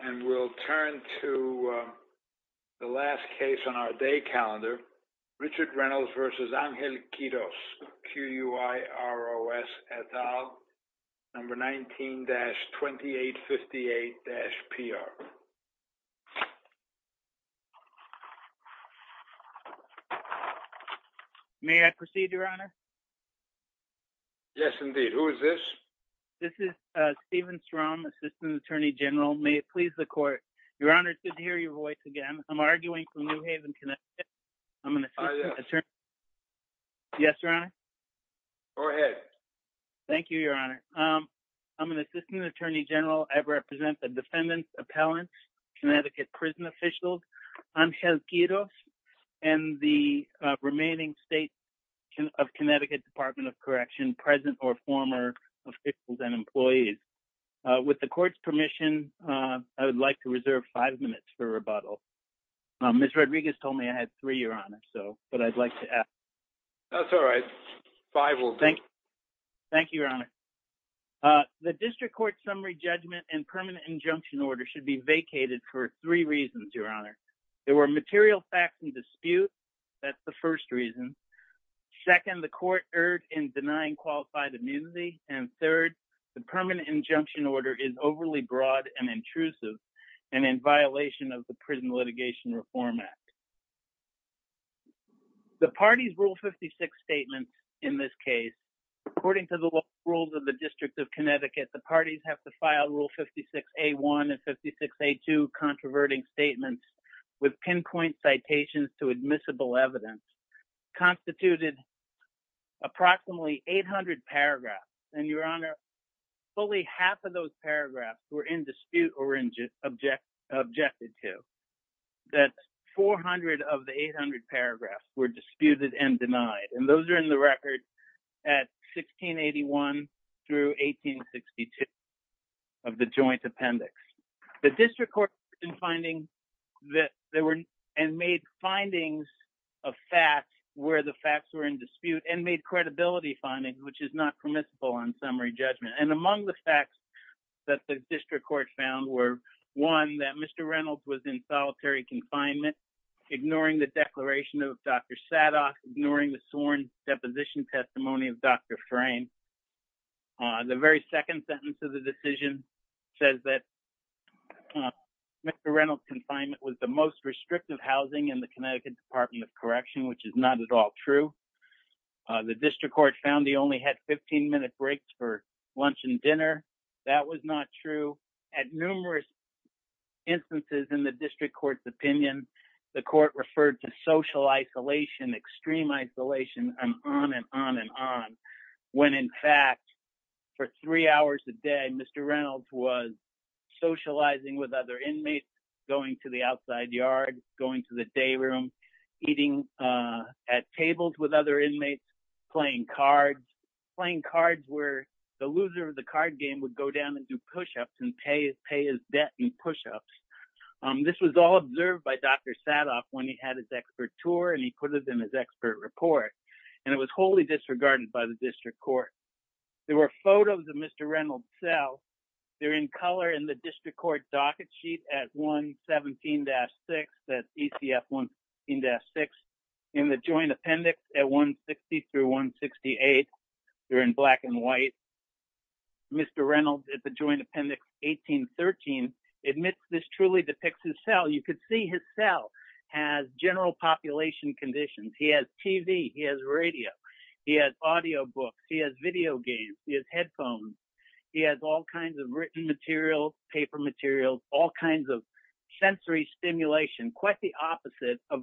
And we'll turn to the last case on our day calendar, Richard Reynolds v. Angel Quiroz et al, number 19-2858-PR. May I proceed, Your Honor? Yes, indeed. Who is this? This is Steven Strom, Assistant Attorney General. May it please the Court. Your Honor, it's good to hear your voice again. I'm arguing for New Haven Connecticut. I'm an Assistant Attorney General. Yes, Your Honor? Go ahead. Thank you, Your Honor. I'm an Assistant Attorney General. I represent the defendants, appellants, Connecticut prison officials, Angel Quiroz, and the remaining states of Connecticut Department of Correction, present or former officials and employees. With the Court's permission, I would like to reserve five minutes for rebuttal. Ms. Rodriguez told me I had three, Your Honor, but I'd like to ask. That's all right. Five will do. Thank you, Your Honor. The District Court summary judgment and permanent injunction order should be vacated for three reasons, Your Honor. There were material facts in dispute. That's the first reason. Second, the Court erred in denying qualified immunity. And third, the permanent injunction order is overly broad and intrusive and in violation of the Prison Litigation Reform Act. The parties' Rule 56 statements in this case, according to the rules of the District of Connecticut, the parties have to file Rule 56A1 and 56A2 controverting statements with pinpoint citations to admissible evidence, constituted approximately 800 paragraphs. And Your Honor, fully half of those paragraphs were in dispute or objected to. That's 400 of the 800 paragraphs were disputed and denied. And those are in the record at 1681 through 1862 of the joint appendix. The District Court in finding that there were and made findings of facts where the facts were in dispute and made credibility findings, which is not permissible on summary judgment. And among the facts that the District Court found were one, that Mr. Reynolds was in solitary confinement, ignoring the declaration of Dr. Sadoff, ignoring the sworn deposition testimony of Dr. Frayne. The very second sentence of the decision says that Mr. Reynolds' confinement was the most restrictive housing in the Connecticut Department of Correction, which is not at all true. The District Court found he only had 15 minute breaks for lunch and dinner. That was not true. At numerous instances in the District Court's opinion, the court referred to social isolation, extreme isolation, and on and on and on. When in fact, for three hours a day, Mr. Reynolds was socializing with other inmates, going to the outside yard, going to the day room, eating at tables with other inmates, playing cards, playing cards where the loser of the card game would go down and do push-ups and pay his debt in push-ups. This was all observed by Dr. Sadoff when he had his expert tour and he put it in his expert report. And it was wholly disregarded by the District Court. There were photos of Mr. Reynolds' cell. They're in color in the District Court docket sheet at 117-6, that's ECF 117-6. In the joint appendix at 160 through 168, they're in black and white. Mr. Reynolds at the joint appendix 1813 admits this truly depicts his cell. You could see his cell has general population conditions. He has TV, he has radio, he has audio books, he has video games, he has headphones. He has all kinds of written material, paper materials, all kinds of sensory stimulation, quite the opposite of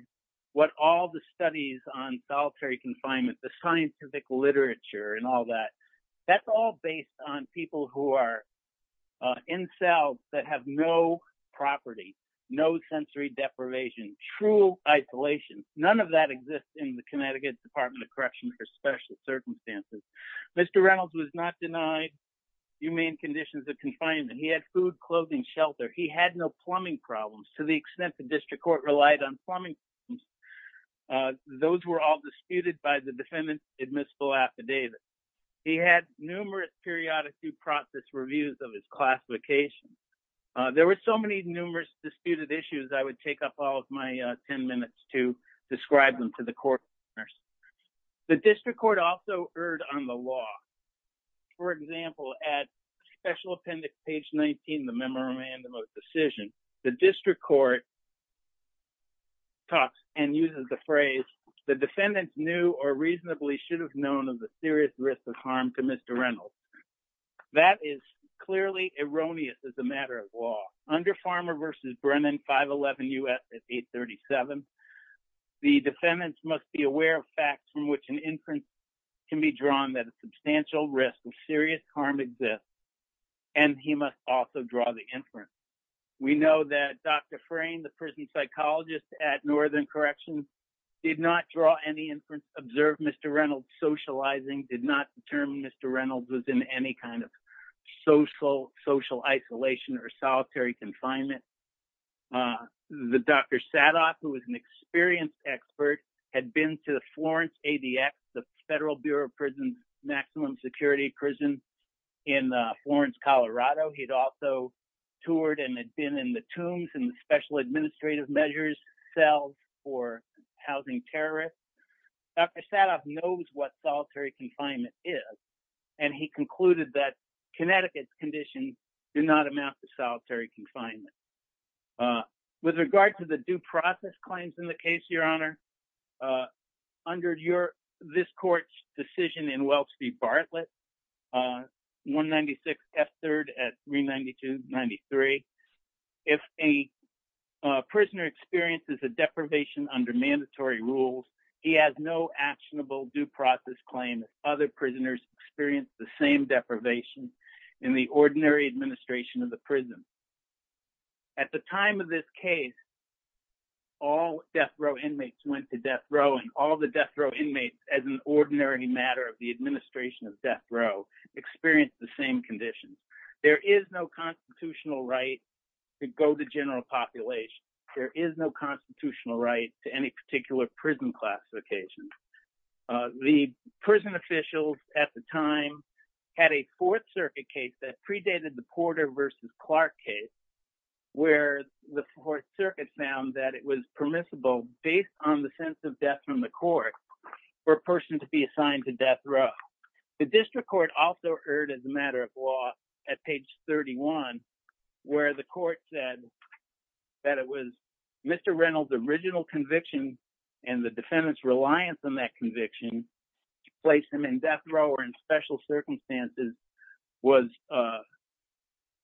what all the studies on solitary confinement, the scientific literature and all that. That's all based on people who are in cells that have no property, no sensory deprivation, true isolation, none of that exists in the Connecticut Department of Correction for special circumstances. Mr. Reynolds was not denied humane conditions of confinement. He had food, clothing, shelter. He had no plumbing problems to the extent the District Court relied on plumbing. Those were all disputed by the defendant's admissible affidavit. He had numerous periodic due process reviews of his classification. There were so many numerous disputed issues I would take up all of my 10 minutes to describe them to the court. The District Court also erred on the law. For example, at special appendix page 19, the memorandum of decision, the District Court talks and uses the phrase, the defendant knew or reasonably should have known of the serious risk of harm to Mr. Reynolds. That is clearly erroneous as a matter of law. Under Farmer v. Brennan, 511 U.S. 837, the defendants must be aware of facts from which an inference can be drawn that a substantial risk of serious harm exists, and he must also draw the inference. We know that Dr. Frayne, the prison psychologist at Northern Corrections, did not draw any inference, observed Mr. Reynolds socializing, did not determine Mr. Reynolds was in any kind of social isolation or solitary confinement. The Dr. Sadoff, who was an experienced expert, had been to the Florence ADX, the Federal Bureau of Prisons' maximum security prison in Florence, Colorado. He'd also toured and had been in the tombs and special administrative measures cells for housing terrorists. Dr. Sadoff knows what solitary confinement is, and he concluded that Connecticut's conditions do not amount to solitary confinement. With regard to the due process claims in the case, Your Honor, under this court's decision in Welch v. Bartlett, 196 F-3rd at 392-93, if a prisoner experiences a deprivation under mandatory rules, he has no actionable due process claim if other prisoners experience the same deprivation in the ordinary administration of the prison. At the time of this case, all death row inmates went to death row, and all the death row inmates, as an ordinary matter of the administration of death row, experienced the same conditions. There is no constitutional right to go to general population. There is no constitutional right to any particular prison class occasion. The prison officials at the time had a Fourth Circuit case that predated the Porter v. Clark case, where the Fourth Circuit found that it was permissible, based on the sense of death from the court, for a person to be assigned to death row. The district court also heard, as a matter of law, at page 31, where the court said that it was Mr. Reynolds' original conviction, and the defendant's reliance on that conviction to place him in death row or in special circumstances was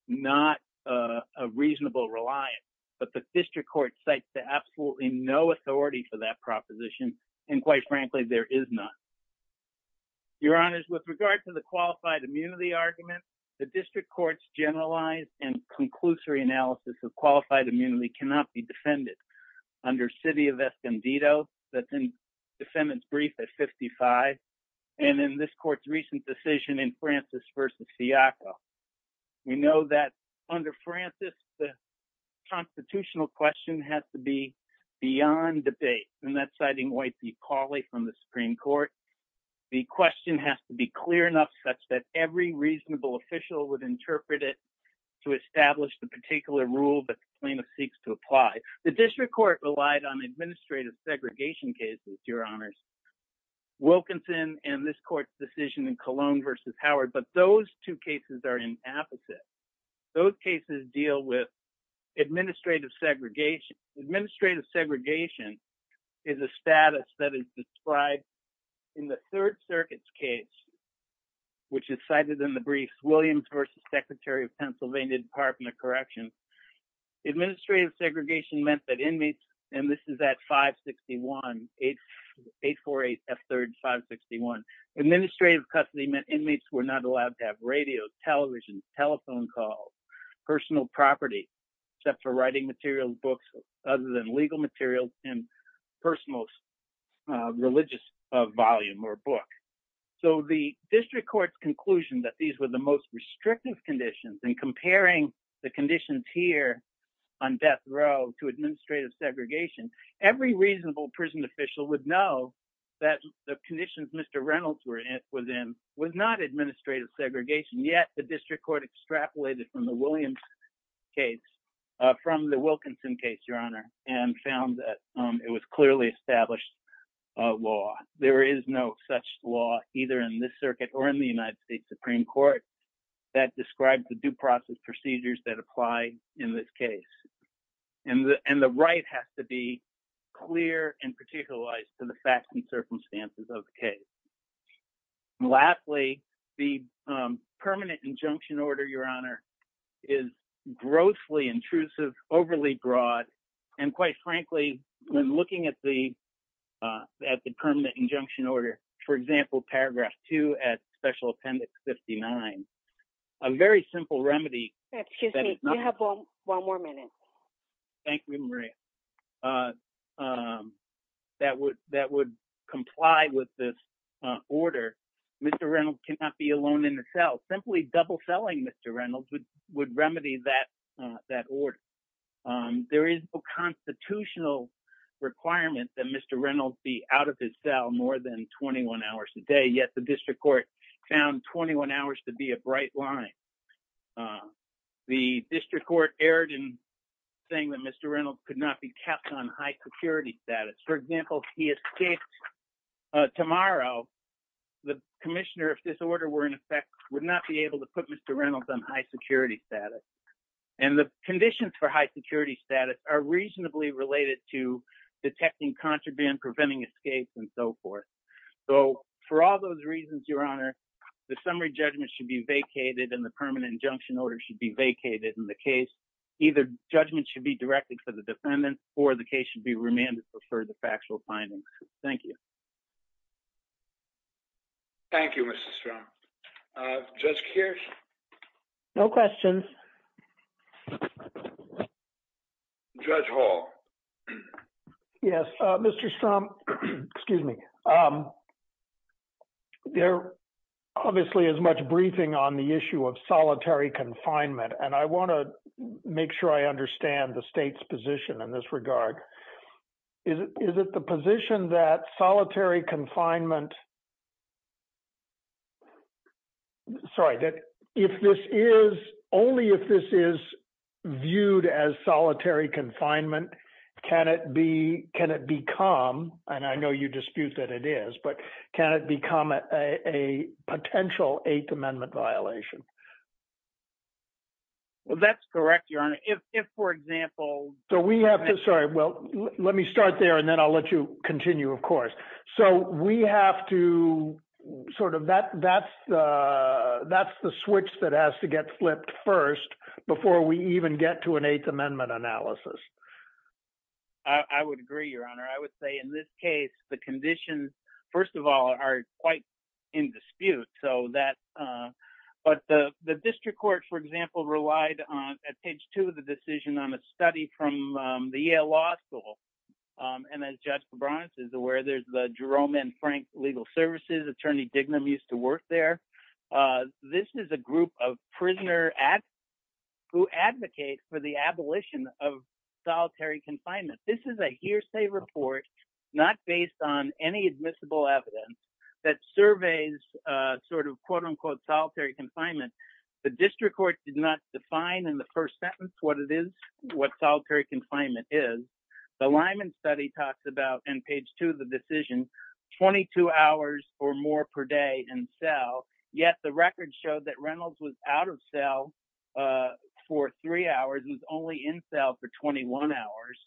not a reasonable reliance. But the district court cites to absolutely no authority for that proposition, and quite frankly, there is none. Your Honors, with regard to the qualified immunity argument, the district court's generalized and conclusory analysis of qualified immunity cannot be defended. Under city of Escondido, the defendant's brief is 55, and in this court's recent decision in Francis v. Siaco, we know that under Francis, the constitutional question has to be beyond debate, and that's citing White v. Cauley from the Supreme Court. The question has to be clear enough such that every reasonable official would interpret it to establish the particular rule that the plaintiff seeks to apply. The district court relied on administrative segregation cases, Your Honors. Wilkinson and this court's decision in Colon v. Howard, but those two cases are inapposite. Those cases deal with administrative segregation. Administrative segregation is a status that is described in the Third Circuit's case, which is cited in the brief, Williams v. Secretary of Pennsylvania Department of Corrections. Administrative segregation meant that inmates, and this is at 561, 848 F. 3rd, 561. Administrative custody meant inmates were not allowed to have radio, television, telephone calls, personal property, except for writing materials, books, other than legal materials and personal religious volume or book. So the district court's conclusion that these were the most restrictive conditions in comparing the conditions here on death row to administrative segregation. Every reasonable prison official would know that the conditions Mr. Reynolds was in was not administrative segregation, yet the district court extrapolated from the Williams case, from the Wilkinson case, Your Honor, and found that it was clearly established law. There is no such law either in this circuit or in the United States Supreme Court that describes the due process procedures that apply in this case. And the right has to be clear and particularized to the facts and circumstances of the case. Lastly, the permanent injunction order, Your Honor, is grossly intrusive, overly broad, and quite frankly, when looking at the permanent injunction order, for example, paragraph two at special appendix 59, a very simple remedy- One more minute. Thank you, Maria. That would comply with this order. Mr. Reynolds cannot be alone in the cell. Simply double-selling Mr. Reynolds would remedy that order. There is no constitutional requirement that Mr. Reynolds be out of his cell more than 21 hours a day, yet the district court found 21 hours to be a bright line. The district court erred in saying that Mr. Reynolds could not be kept on high security status. For example, if he escaped tomorrow, the commissioner, if this order were in effect, would not be able to put Mr. Reynolds on high security status. And the conditions for high security status are reasonably related to detecting contraband, preventing escapes, and so forth. So for all those reasons, Your Honor, the summary judgment should be vacated and the permanent injunction order should be vacated in the case. Either judgment should be directed for the defendant or the case should be remanded for further factual findings. Thank you. Thank you, Mr. Strom. Judge Keirs? No questions. Judge Hall. Yes, Mr. Strom, excuse me. There obviously is much briefing on the issue of solitary confinement, and I want to make sure I understand the state's position in this regard. Is it the position that solitary confinement, sorry, that if this is, only if this is viewed as solitary confinement, can it be, can it become, and I know you dispute that it is, but can it become a potential Eighth Amendment violation? Well, that's correct, Your Honor. If, for example, So we have to, sorry, well, let me start there and then I'll let you continue, of course. So we have to sort of, that's the switch that has to get flipped first I would agree, Your Honor. I would say in this case, the conditions, first of all, are quite in dispute. So that, but the district court, for example, relied on, at page two of the decision, on a study from the Yale Law School. And as Judge Febronius is aware, there's the Jerome and Frank Legal Services. Attorney Dignam used to work there. This is a group of prisoner who advocate for the abolition of solitary confinement. This is a hearsay report, not based on any admissible evidence that surveys sort of, quote unquote, solitary confinement. The district court did not define in the first sentence what it is, what solitary confinement is. The Lyman study talks about, in page two of the decision, 22 hours or more per day in cell, yet the record showed that Reynolds was out of cell for three hours and was only in cell for 21 hours.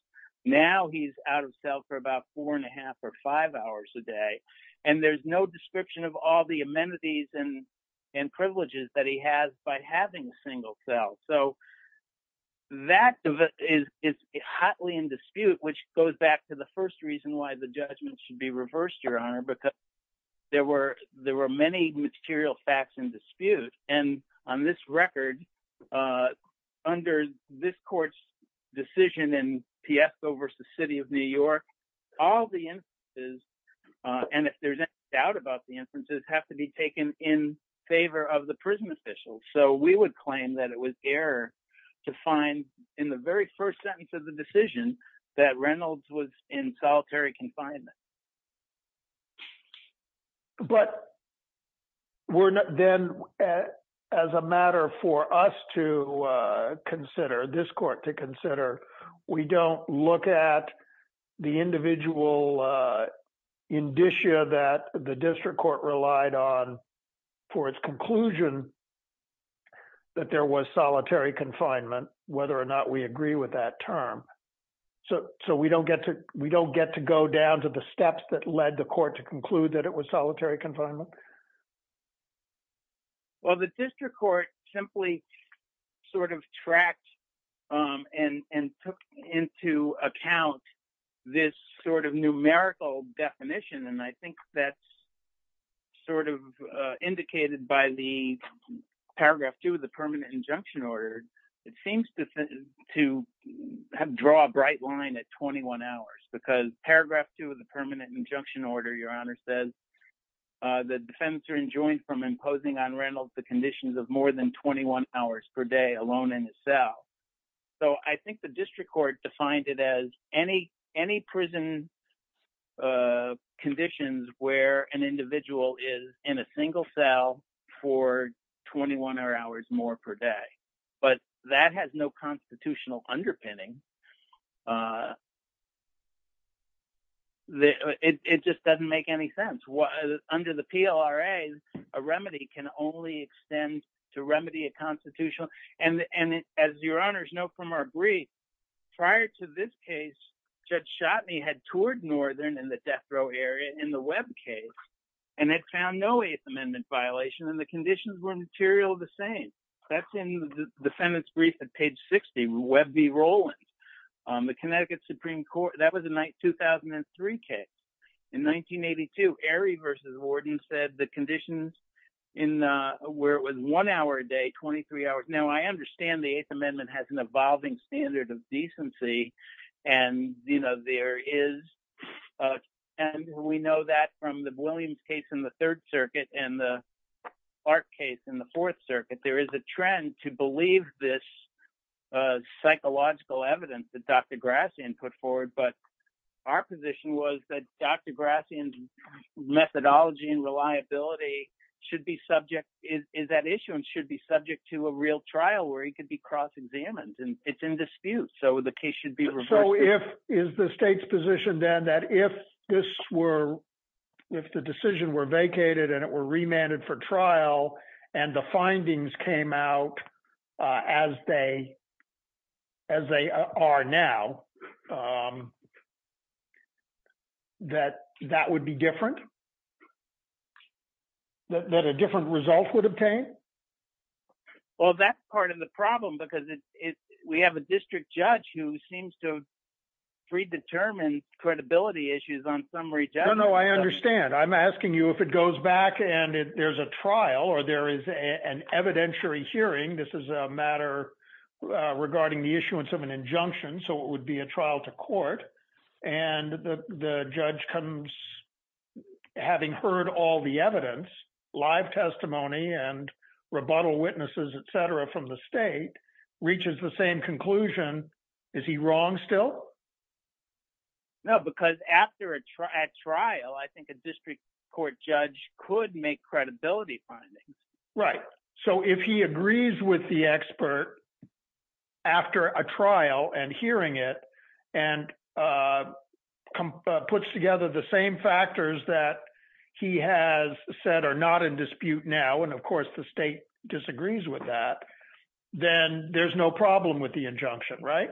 Now he's out of cell for about four and a half or five hours a day. And there's no description of all the amenities and privileges that he has by having a single cell. So that is hotly in dispute, which goes back to the first reason why the judgment should be reversed, Your Honor, because there were many material facts in dispute. And on this record, under this court's decision in Piesco v. City of New York, all the instances, and if there's any doubt about the instances, have to be taken in favor of the prison officials. So we would claim that it was error to find in the very first sentence of the decision that Reynolds was in solitary confinement. But then as a matter for us to consider, this court to consider, we don't look at the individual indicia that the district court relied on for its conclusion that there was solitary confinement, whether or not we agree with that term. So we don't get to go down to the steps that led the court to conclude that it was solitary confinement. Well, the district court simply sort of tracked and took into account this sort of numerical definition. And I think that's sort of indicated by the paragraph two of the permanent injunction order. It seems to draw a bright line at 21 hours because paragraph two of the permanent injunction order, Your Honor says, the defense are enjoined from imposing on Reynolds the conditions of more than 21 hours per day alone in the cell. So I think the district court defined it as any prison conditions where an individual is in a single cell for 21 hours more per day. But that has no constitutional underpinning. It just doesn't make any sense. Under the PLRA, a remedy can only extend to remedy a constitutional. And as Your Honors know from our brief, prior to this case, Judge Shotney had toured Northern in the death row area in the Webb case and had found no Eighth Amendment violation and the conditions were material the same. That's in the defendant's brief at page 60, Webb v. Rowlands, the Connecticut Supreme Court. That was a 2003 case. In 1982, Airy versus Warden said the conditions where it was one hour a day, 23 hours. Now I understand the Eighth Amendment has an evolving standard of decency. And there is, and we know that from the Williams case in the Third Circuit and the Park case in the Fourth Circuit, that there is a trend to believe this psychological evidence that Dr. Grassian put forward. But our position was that Dr. Grassian's methodology and reliability should be subject, is at issue and should be subject to a real trial where he could be cross-examined and it's in dispute. So the case should be reversed. So if, is the state's position then that if this were, if the decision were vacated and it were remanded for trial and the findings came out as they, as they are now, that that would be different? That a different result would obtain? Well, that's part of the problem because we have a district judge who seems to predetermine credibility issues on summary judgment. No, no, I understand. I'm asking you if it goes back and there's a trial or there is an evidentiary hearing, this is a matter regarding the issuance of an injunction. So it would be a trial to court. And the judge comes, having heard all the evidence, live testimony and rebuttal witnesses, et cetera, from the state, reaches the same conclusion. Is he wrong still? No, because after a trial, I think a district court judge could make credibility findings. Right, so if he agrees with the expert after a trial and hearing it and puts together the same factors that he has said are not in dispute now, and of course the state disagrees with that, then there's no problem with the injunction, right?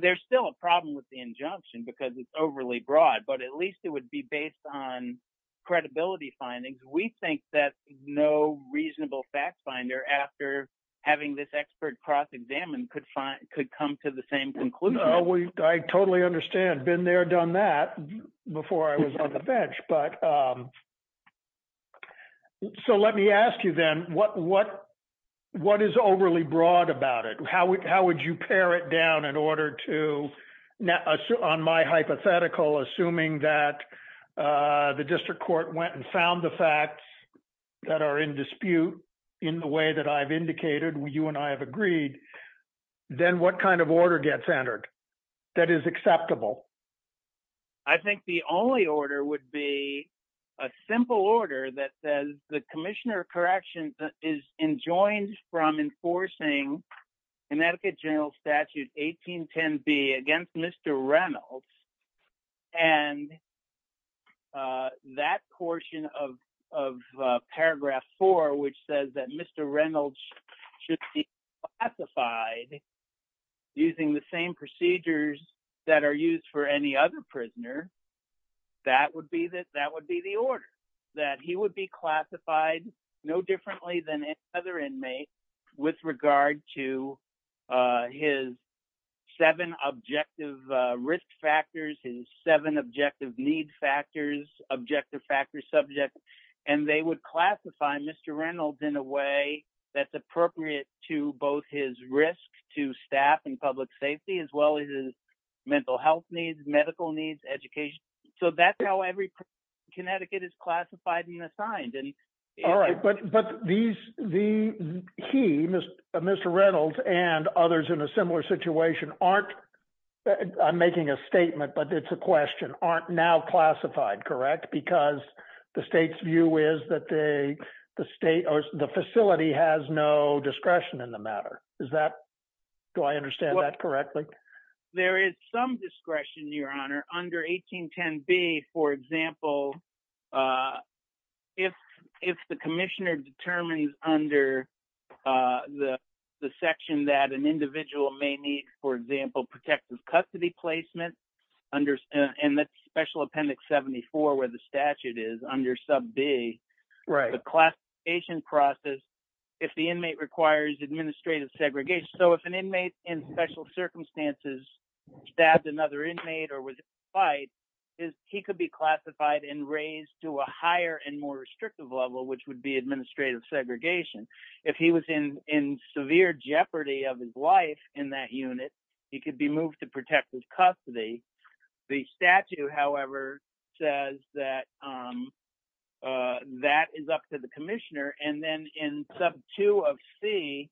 There's still a problem with the injunction because it's overly broad, but at least it would be based on credibility findings. We think that no reasonable fact finder after having this expert cross-examined could come to the same conclusion. I totally understand. Been there, done that before I was on the bench. So let me ask you then, what is overly broad about it? How would you pare it down in order to, on my hypothetical, assuming that the district court went and found the facts that are in dispute in the way that I've indicated, you and I have agreed, then what kind of order gets entered that is acceptable? I think the only order would be a simple order that says the commissioner of corrections is enjoined from enforcing Connecticut General Statute 1810B against Mr. Reynolds and that portion of paragraph four which says that Mr. Reynolds should be classified using the same procedures that are used for any other prisoner, that would be the order, that he would be classified no differently than any other inmate with regard to his seven objections objective risk factors, his seven objective need factors, objective factor subjects, and they would classify Mr. Reynolds in a way that's appropriate to both his risk to staff and public safety as well as his mental health needs, medical needs, education. So that's how every Connecticut is classified and assigned. All right, but he, Mr. Reynolds and others in a similar situation aren't, I'm making a statement, but it's a question, aren't now classified, correct? Because the state's view is that the state or the facility has no discretion in the matter. Is that, do I understand that correctly? There is some discretion, Your Honor, under 1810B, for example, if the commissioner determines under the section that an individual may need, for example, protective custody placement, under and that's special appendix 74, where the statute is under sub B. Right. The classification process, if the inmate requires administrative segregation. So if an inmate in special circumstances stabbed another inmate or was in a fight, he could be classified and raised to a higher and more restrictive level, which would be administrative segregation. If he was in severe jeopardy of his life in that unit, he could be moved to protective custody. The statute, however, says that that is up to the commissioner. And then in sub two of C,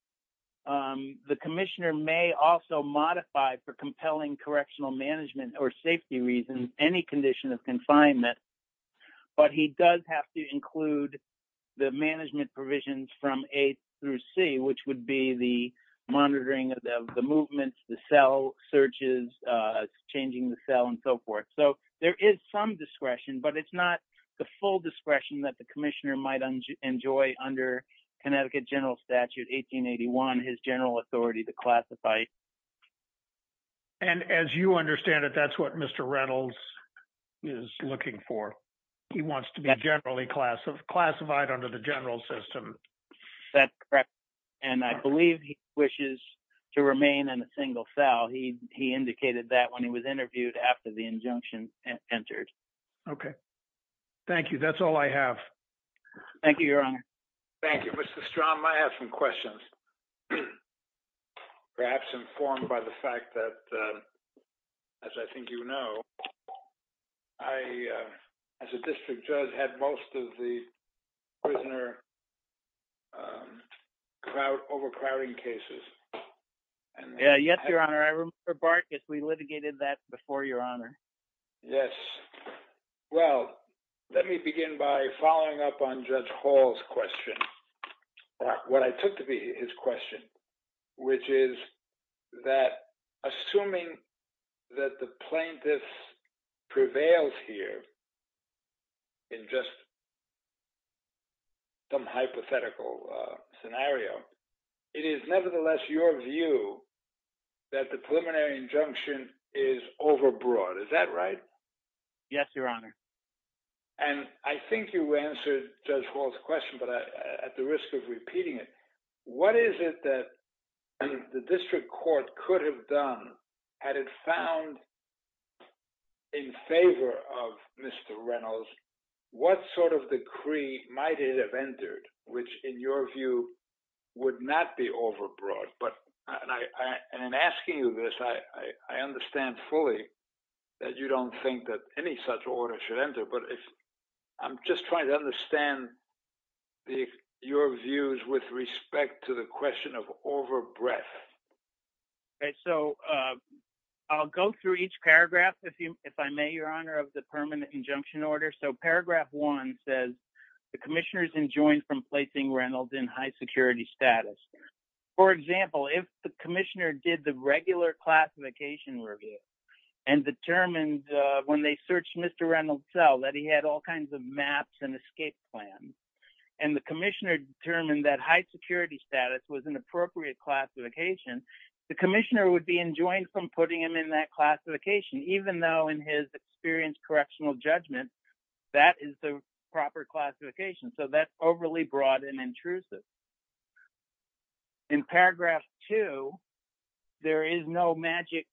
the commissioner may also modify for compelling correctional management or safety reasons, any condition of confinement, but he does have to include the management provisions from A through C, which would be the monitoring of the movements, the cell searches, changing the cell and so forth. So there is some discretion, but it's not the full discretion that the commissioner might enjoy under Connecticut General Statute 1881, his general authority to classify. And as you understand it, that's what Mr. Reynolds is looking for. He wants to be generally classified under the general system. That's correct. And I believe he wishes to remain in a single cell. He indicated that when he was interviewed after the injunction entered. Okay. Thank you. That's all I have. Thank you, Your Honor. Thank you, Mr. Strong. I have some questions. Perhaps informed by the fact that, as I think you know, I, as a district judge, had most of the prisoner overcrowding cases. Yeah, yes, Your Honor. I remember, Bart, we litigated that before, Your Honor. Yes. Well, let me begin by following up on Judge Hall's question, what I took to be his question, which is that, assuming that the plaintiff prevails here in just some hypothetical scenario, it is nevertheless your view that the preliminary injunction is overbroad. Is that right? Yes, Your Honor. And I think you answered Judge Hall's question, but at the risk of repeating it, what is it that the district court could have done had it found in favor of Mr. Reynolds, what sort of decree might it have entered, which, in your view, would not be overbroad? But, and I'm asking you this, I understand fully that you don't think that any such order should enter, but I'm just trying to understand your views with respect to the question of overbreadth. Okay, so I'll go through each paragraph, if I may, Your Honor, of the permanent injunction order. So paragraph one says, the commissioner's enjoined from placing Reynolds in high security status. For example, if the commissioner did the regular classification review and determined when they searched Mr. Reynolds' cell that he had all kinds of maps and escape plans, and the commissioner determined that high security status was an appropriate classification, the commissioner would be enjoined from putting him in that classification, even though in his experience correctional judgment, that is the proper classification. So that's overly broad and intrusive. In paragraph two, there is no magic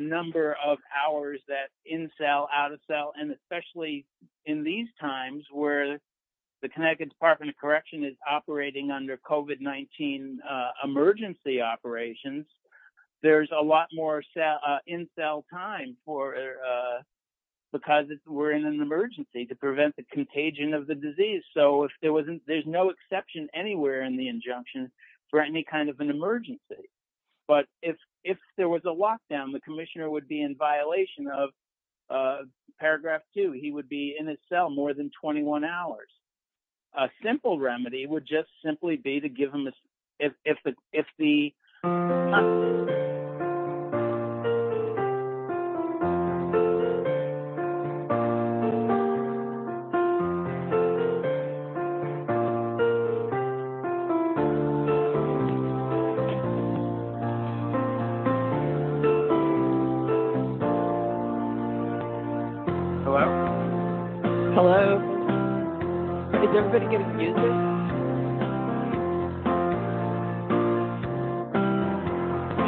number of hours that in cell, out of cell, and especially in these times where the Connecticut Department of Correction is operating under COVID-19 emergency operations, there's a lot more in cell time because we're in an emergency to prevent the contagion of the disease. So there's no exception anywhere in the injunction for any kind of an emergency. But if there was a lockdown, the commissioner would be in violation of paragraph two. He would be in a cell more than 21 hours. A simple remedy would just simply be to give him, if the... Hello? Hello? Hello? Is everybody getting the message?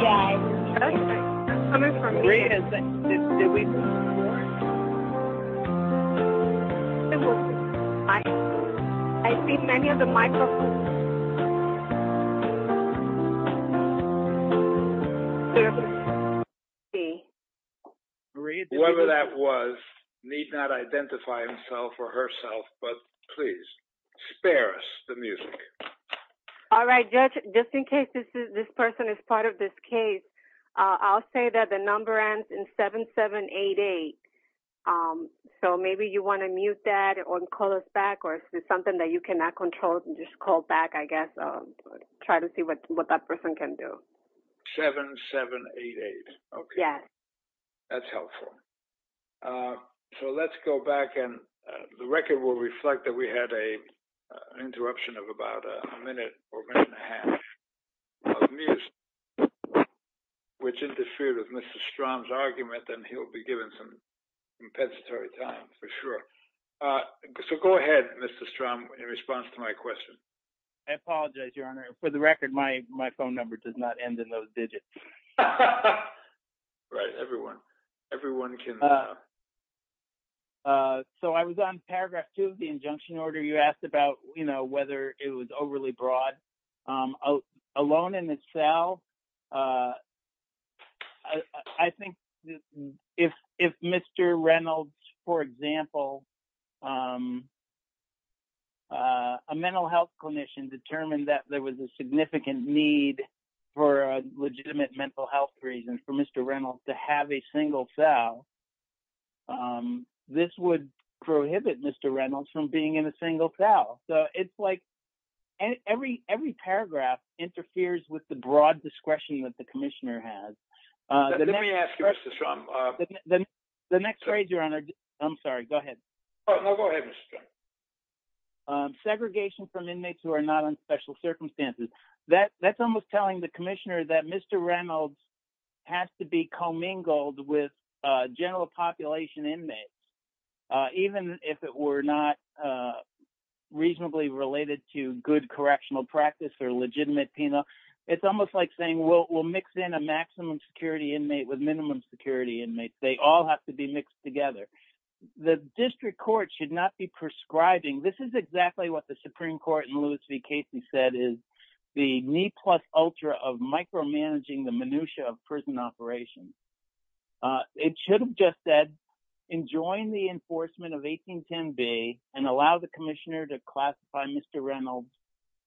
Yes. Okay. I'm coming for you. Yes. This is it. I see many of the microphones. Thank you. Let's see. Whoever that was need not identify himself or herself, but please spare us the music. All right. Just in case this person is part of this case, I'll say that the number ends in 7788. So maybe you wanna mute that or call us back or something that you cannot control and just call back, I guess. Try to see what that person can do. 7788. Okay. That's helpful. So let's go back and the record will reflect that we had an interruption of about a minute or a minute and a half of music, which interfered with Mr. Strom's argument and he'll be given some compensatory time for sure. So go ahead, Mr. Strom, in response to my question. I apologize, Your Honor. For the record, my phone number does not end in those digits. Right, everyone. Everyone can. So I was on paragraph two of the injunction order. You asked about whether it was overly broad. Alone in the cell, I think if Mr. Reynolds, for example, a mental health clinician determined that there was a significant need for a legitimate mental health reason for Mr. Reynolds to have a single cell, this would prohibit Mr. Reynolds from being in a single cell. So it's like every paragraph interferes with the broad discretion that the commissioner has. Let me ask you, Mr. Strom. The next phrase, Your Honor. I'm sorry, go ahead. No, go ahead, Mr. Strom. Segregation from inmates who are not on special circumstances. That's almost telling the commissioner that Mr. Reynolds has to be commingled with general population inmates, even if it were not reasonably related to good correctional practice or legitimate penal. It's almost like saying, well, we'll mix in a maximum security inmate with minimum security inmates. They all have to be mixed together. The district court should not be prescribing. This is exactly what the Supreme Court in Louis v. Casey said is the knee plus ultra of micromanaging the minutia of prison operations. It should have just said, enjoin the enforcement of 1810B and allow the commissioner to classify Mr. Reynolds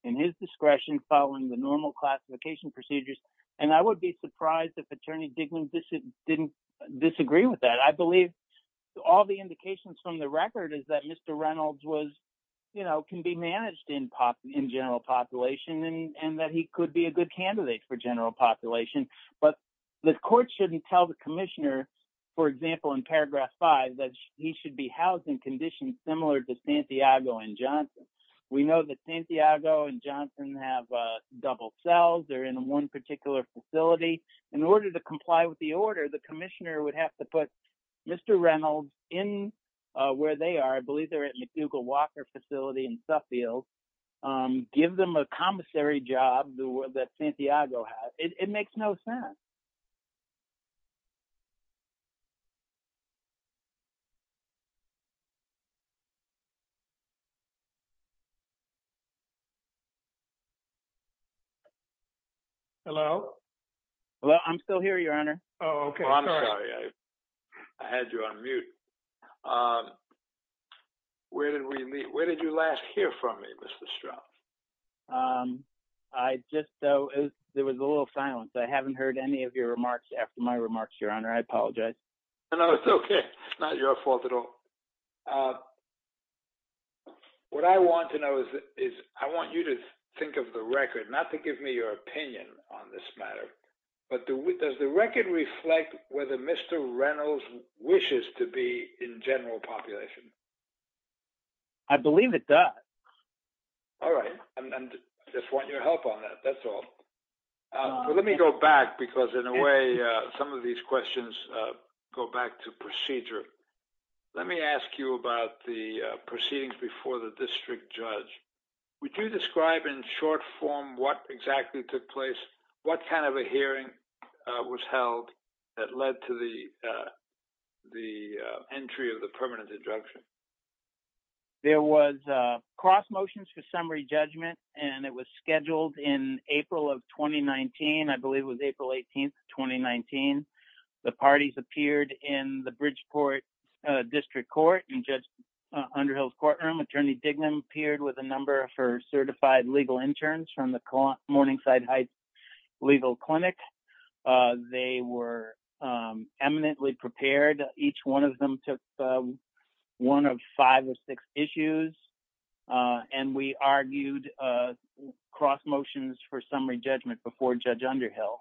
in his discretion following the normal classification procedures. And I would be surprised if Attorney Digman didn't disagree with that. I believe all the indications from the record is that Mr. Reynolds can be managed in general population and that he could be a good candidate for general population. But the court shouldn't tell the commissioner, for example, in paragraph five, that he should be housed in conditions similar to Santiago and Johnson. We know that Santiago and Johnson have double cells. They're in one particular facility. In order to comply with the order, the commissioner would have to put Mr. Reynolds in where they are. I believe they're at McNugle Walker facility in Suffield. Give them a commissary job that Santiago has. It makes no sense. Well, I'm still here, your honor. I'm sorry, I had you on mute. Where did we meet? Where did you last hear from me, Mr. Strauss? I just, there was a little silence. I haven't heard any of your remarks after my remarks, your honor. I apologize. No, it's okay. It's not your fault at all. What I want to know is, I want you to think of the record, not to give me your opinion on this matter, but does the record reflect whether Mr. Reynolds wishes to be in general population? I believe it does. All right, I just want your help on that. That's all. Let me go back because in a way, some of these questions go back to procedure. Let me ask you about the proceedings before the district judge. Would you describe in short form what exactly took place? What kind of a hearing was held that led to the entry of the permanent injunction? There was a cross motions for summary judgment, and it was scheduled in April of 2019. I believe it was April 18th, 2019. The parties appeared in the Bridgeport District Court and Judge Underhill's courtroom. Attorney Dignan appeared with a number for certified legal interns from the Morningside Heights Legal Clinic. They were eminently prepared. Each one of them took one of five or six issues, and we argued cross motions for summary judgment before Judge Underhill.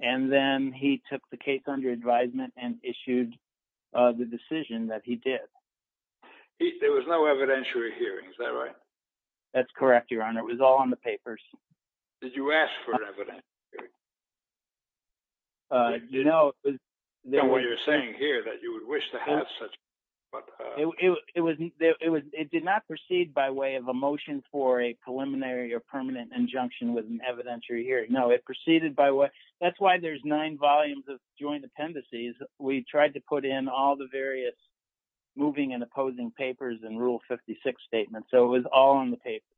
And then he took the case under advisement and issued the decision that he did. There was no evidentiary hearing, is that right? That's correct, Your Honor. It was all on the papers. Did you ask for an evidentiary hearing? You know, it was- I don't know what you're saying here, that you would wish to have such, but- It did not proceed by way of a motion for a preliminary or permanent injunction with an evidentiary hearing. No, it proceeded by what, that's why there's nine volumes of joint appendices. We tried to put in all the various moving and opposing papers in Rule 56 Statement. So it was all on the papers.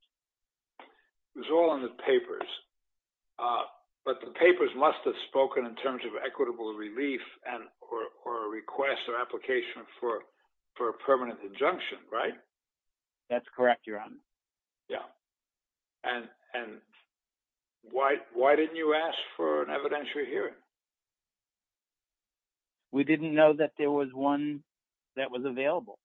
It was all on the papers, but the papers must have spoken in terms of equitable relief and or a request or application for a permanent injunction, right? That's correct, Your Honor. Yeah. And why didn't you ask for an evidentiary hearing? We didn't know that there was one that was available.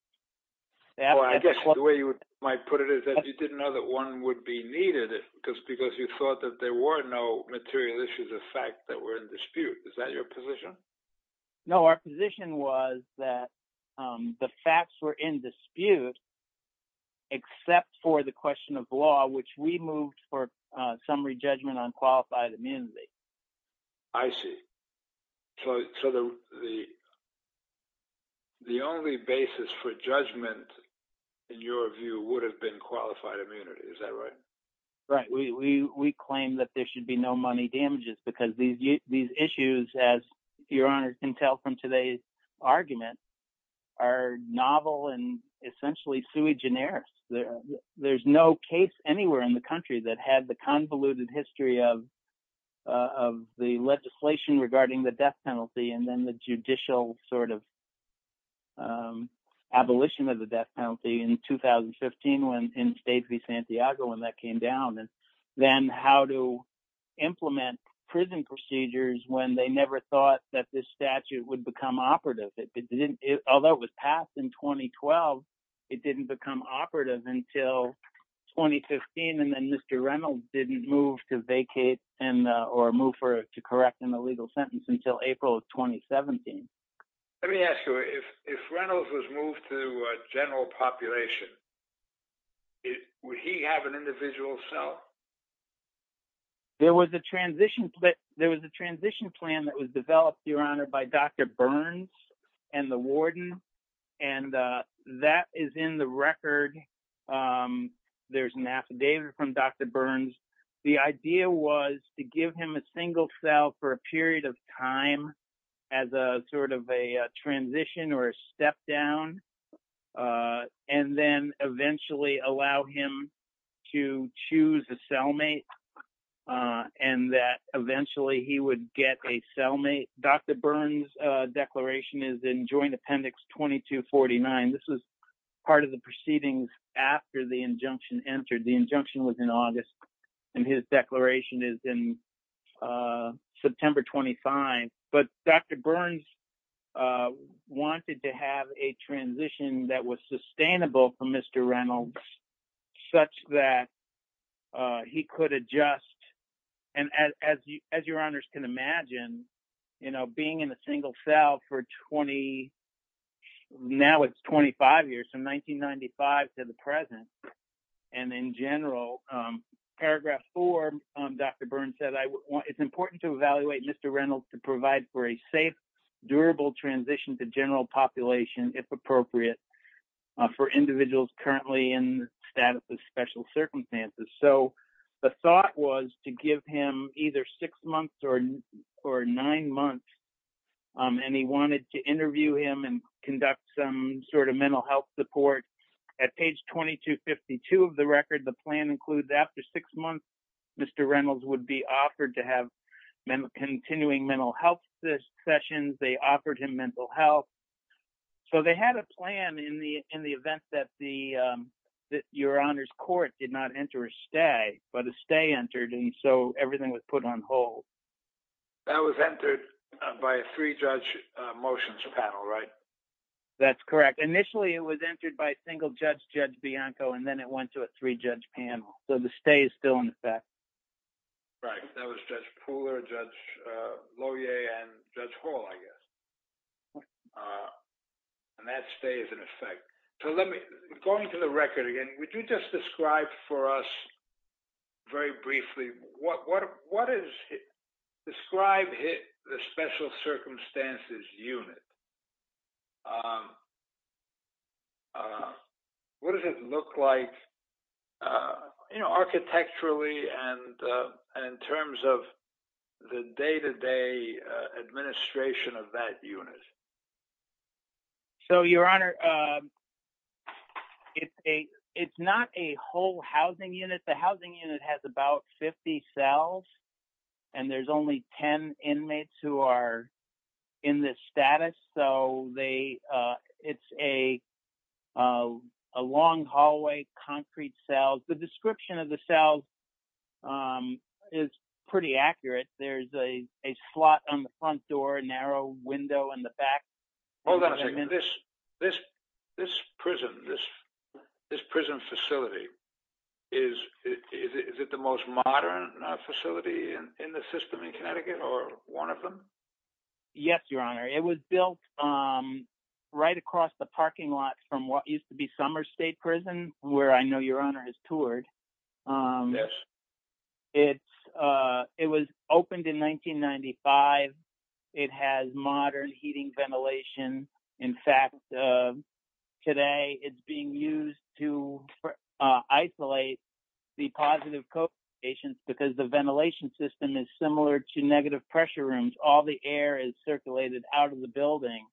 Well, I guess the way you might put it is that you didn't know that one would be needed because you thought that there were no material issues of fact that were in dispute. Is that your position? No, our position was that the facts were in dispute except for the question of law, which we moved for a summary judgment on qualified immunity. I see. So the only basis for judgment in your view would have been qualified immunity. Is that right? Right. We claim that there should be no money damages because these issues as Your Honor can tell from today's argument are novel and essentially sui generis. There's no case anywhere in the country that had the convoluted history of the legislation regarding the death penalty and then the judicial sort of abolition of the death penalty in 2015, when in Stacey Santiago, when that came down and then how to implement prison procedures when they never thought that this statute would become operative. Although it was passed in 2012, it didn't become operative until 2015. And then Mr. Reynolds didn't move to vacate and or move for it to correct in the legal sentence until April of 2017. Let me ask you, if Reynolds was moved to a general population, would he have an individual cell? There was a transition plan that was developed Your Honor by Dr. Burns and the warden. And that is in the record. There's an affidavit from Dr. Burns. The idea was to give him a single cell for a period of time as a sort of a transition or a step down and then eventually allow him to choose a cellmate and that eventually he would get a cellmate. Dr. Burns declaration is in joint appendix 2249. This was part of the proceedings after the injunction entered. The injunction was in August and his declaration is in September 25. But Dr. Burns wanted to have a transition that was sustainable for Mr. Reynolds such that he could adjust. And as your honors can imagine, being in a single cell for 20, now it's 25 years from 1995 to the present. And in general, paragraph four, Dr. Burns said, it's important to evaluate Mr. Reynolds to provide for a safe, durable transition to general population if appropriate for individuals currently in status of special circumstances. So the thought was to give him either six months or nine months and he wanted to interview him and conduct some sort of mental health support at page 2252 of the record. The plan includes after six months, Mr. Reynolds would be offered to have continuing mental health sessions. They offered him mental health. So they had a plan in the event that your honors court did not enter a stay but a stay entered and so everything was put on hold. That was entered by a three judge motions panel, right? That's correct. Initially it was entered by a single judge, Judge Bianco and then it went to a three judge panel. So the stay is still in effect. Right, that was Judge Pooler, Judge Lohier and Judge Hall, I guess. And that stays in effect. So let me, going to the record again, would you just describe for us very briefly, what is described hit the special circumstances unit? What does it look like, you know, architecturally and in terms of the day-to-day administration of that unit? So your honor, it's not a whole housing unit. The housing unit has about 50 cells and there's only 10 inmates who are in this status. So they, it's a long hallway, concrete cells. The description of the cells is pretty accurate. There's a slot on the front door, a narrow window in the back. Hold on a second, this prison, this prison facility, is it the most modern facility in the system in Connecticut or one of them? Yes, your honor. It was built right across the parking lot from what used to be Summer State Prison, where I know your honor has toured. It was opened in 1995. It has modern heating ventilation. In fact, today it's being used to isolate the positive COVID patients because the ventilation system is similar to negative pressure rooms. All the air is circulated out of the building,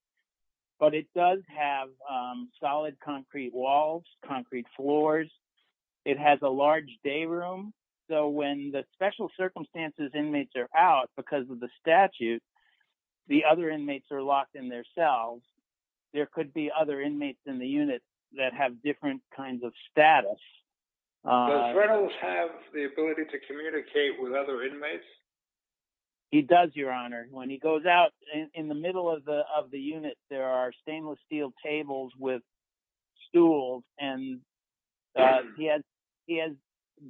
but it does have solid concrete walls, concrete floors. It has a large day room. So when the special circumstances inmates are out because of the statute, the other inmates are locked in their cells. There could be other inmates in the unit that have different kinds of status. Does Reynolds have the ability to communicate with other inmates? He does, your honor. When he goes out in the middle of the unit, there are stainless steel tables with stools and he has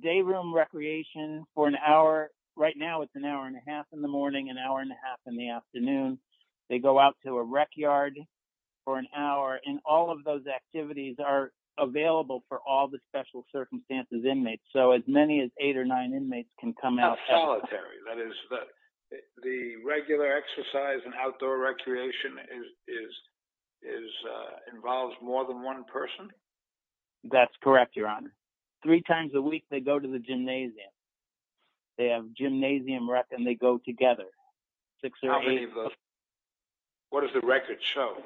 day room recreation for an hour. Right now it's an hour and a half in the morning, an hour and a half in the afternoon. They go out to a rec yard for an hour and all of those activities are available for all the special circumstances inmates. So as many as eight or nine inmates can come out. Solitary, that is the regular exercise and outdoor recreation involves more than one person? That's correct, your honor. Three times a week they go to the gymnasium. They have gymnasium rec and they go together. Six or eight of those. What does the record show?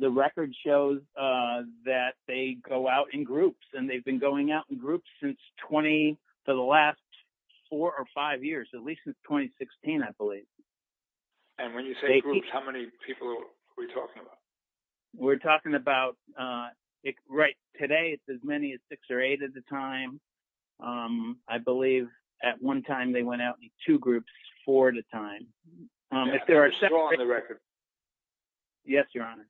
The record shows that they go out in groups and they've been going out in groups for the last four or five years, at least since 2016, I believe. And when you say groups, how many people are we talking about? We're talking about, right, today it's as many as six or eight at a time. I believe at one time they went out in two groups, four at a time. They're still on the record? Yes, your honor.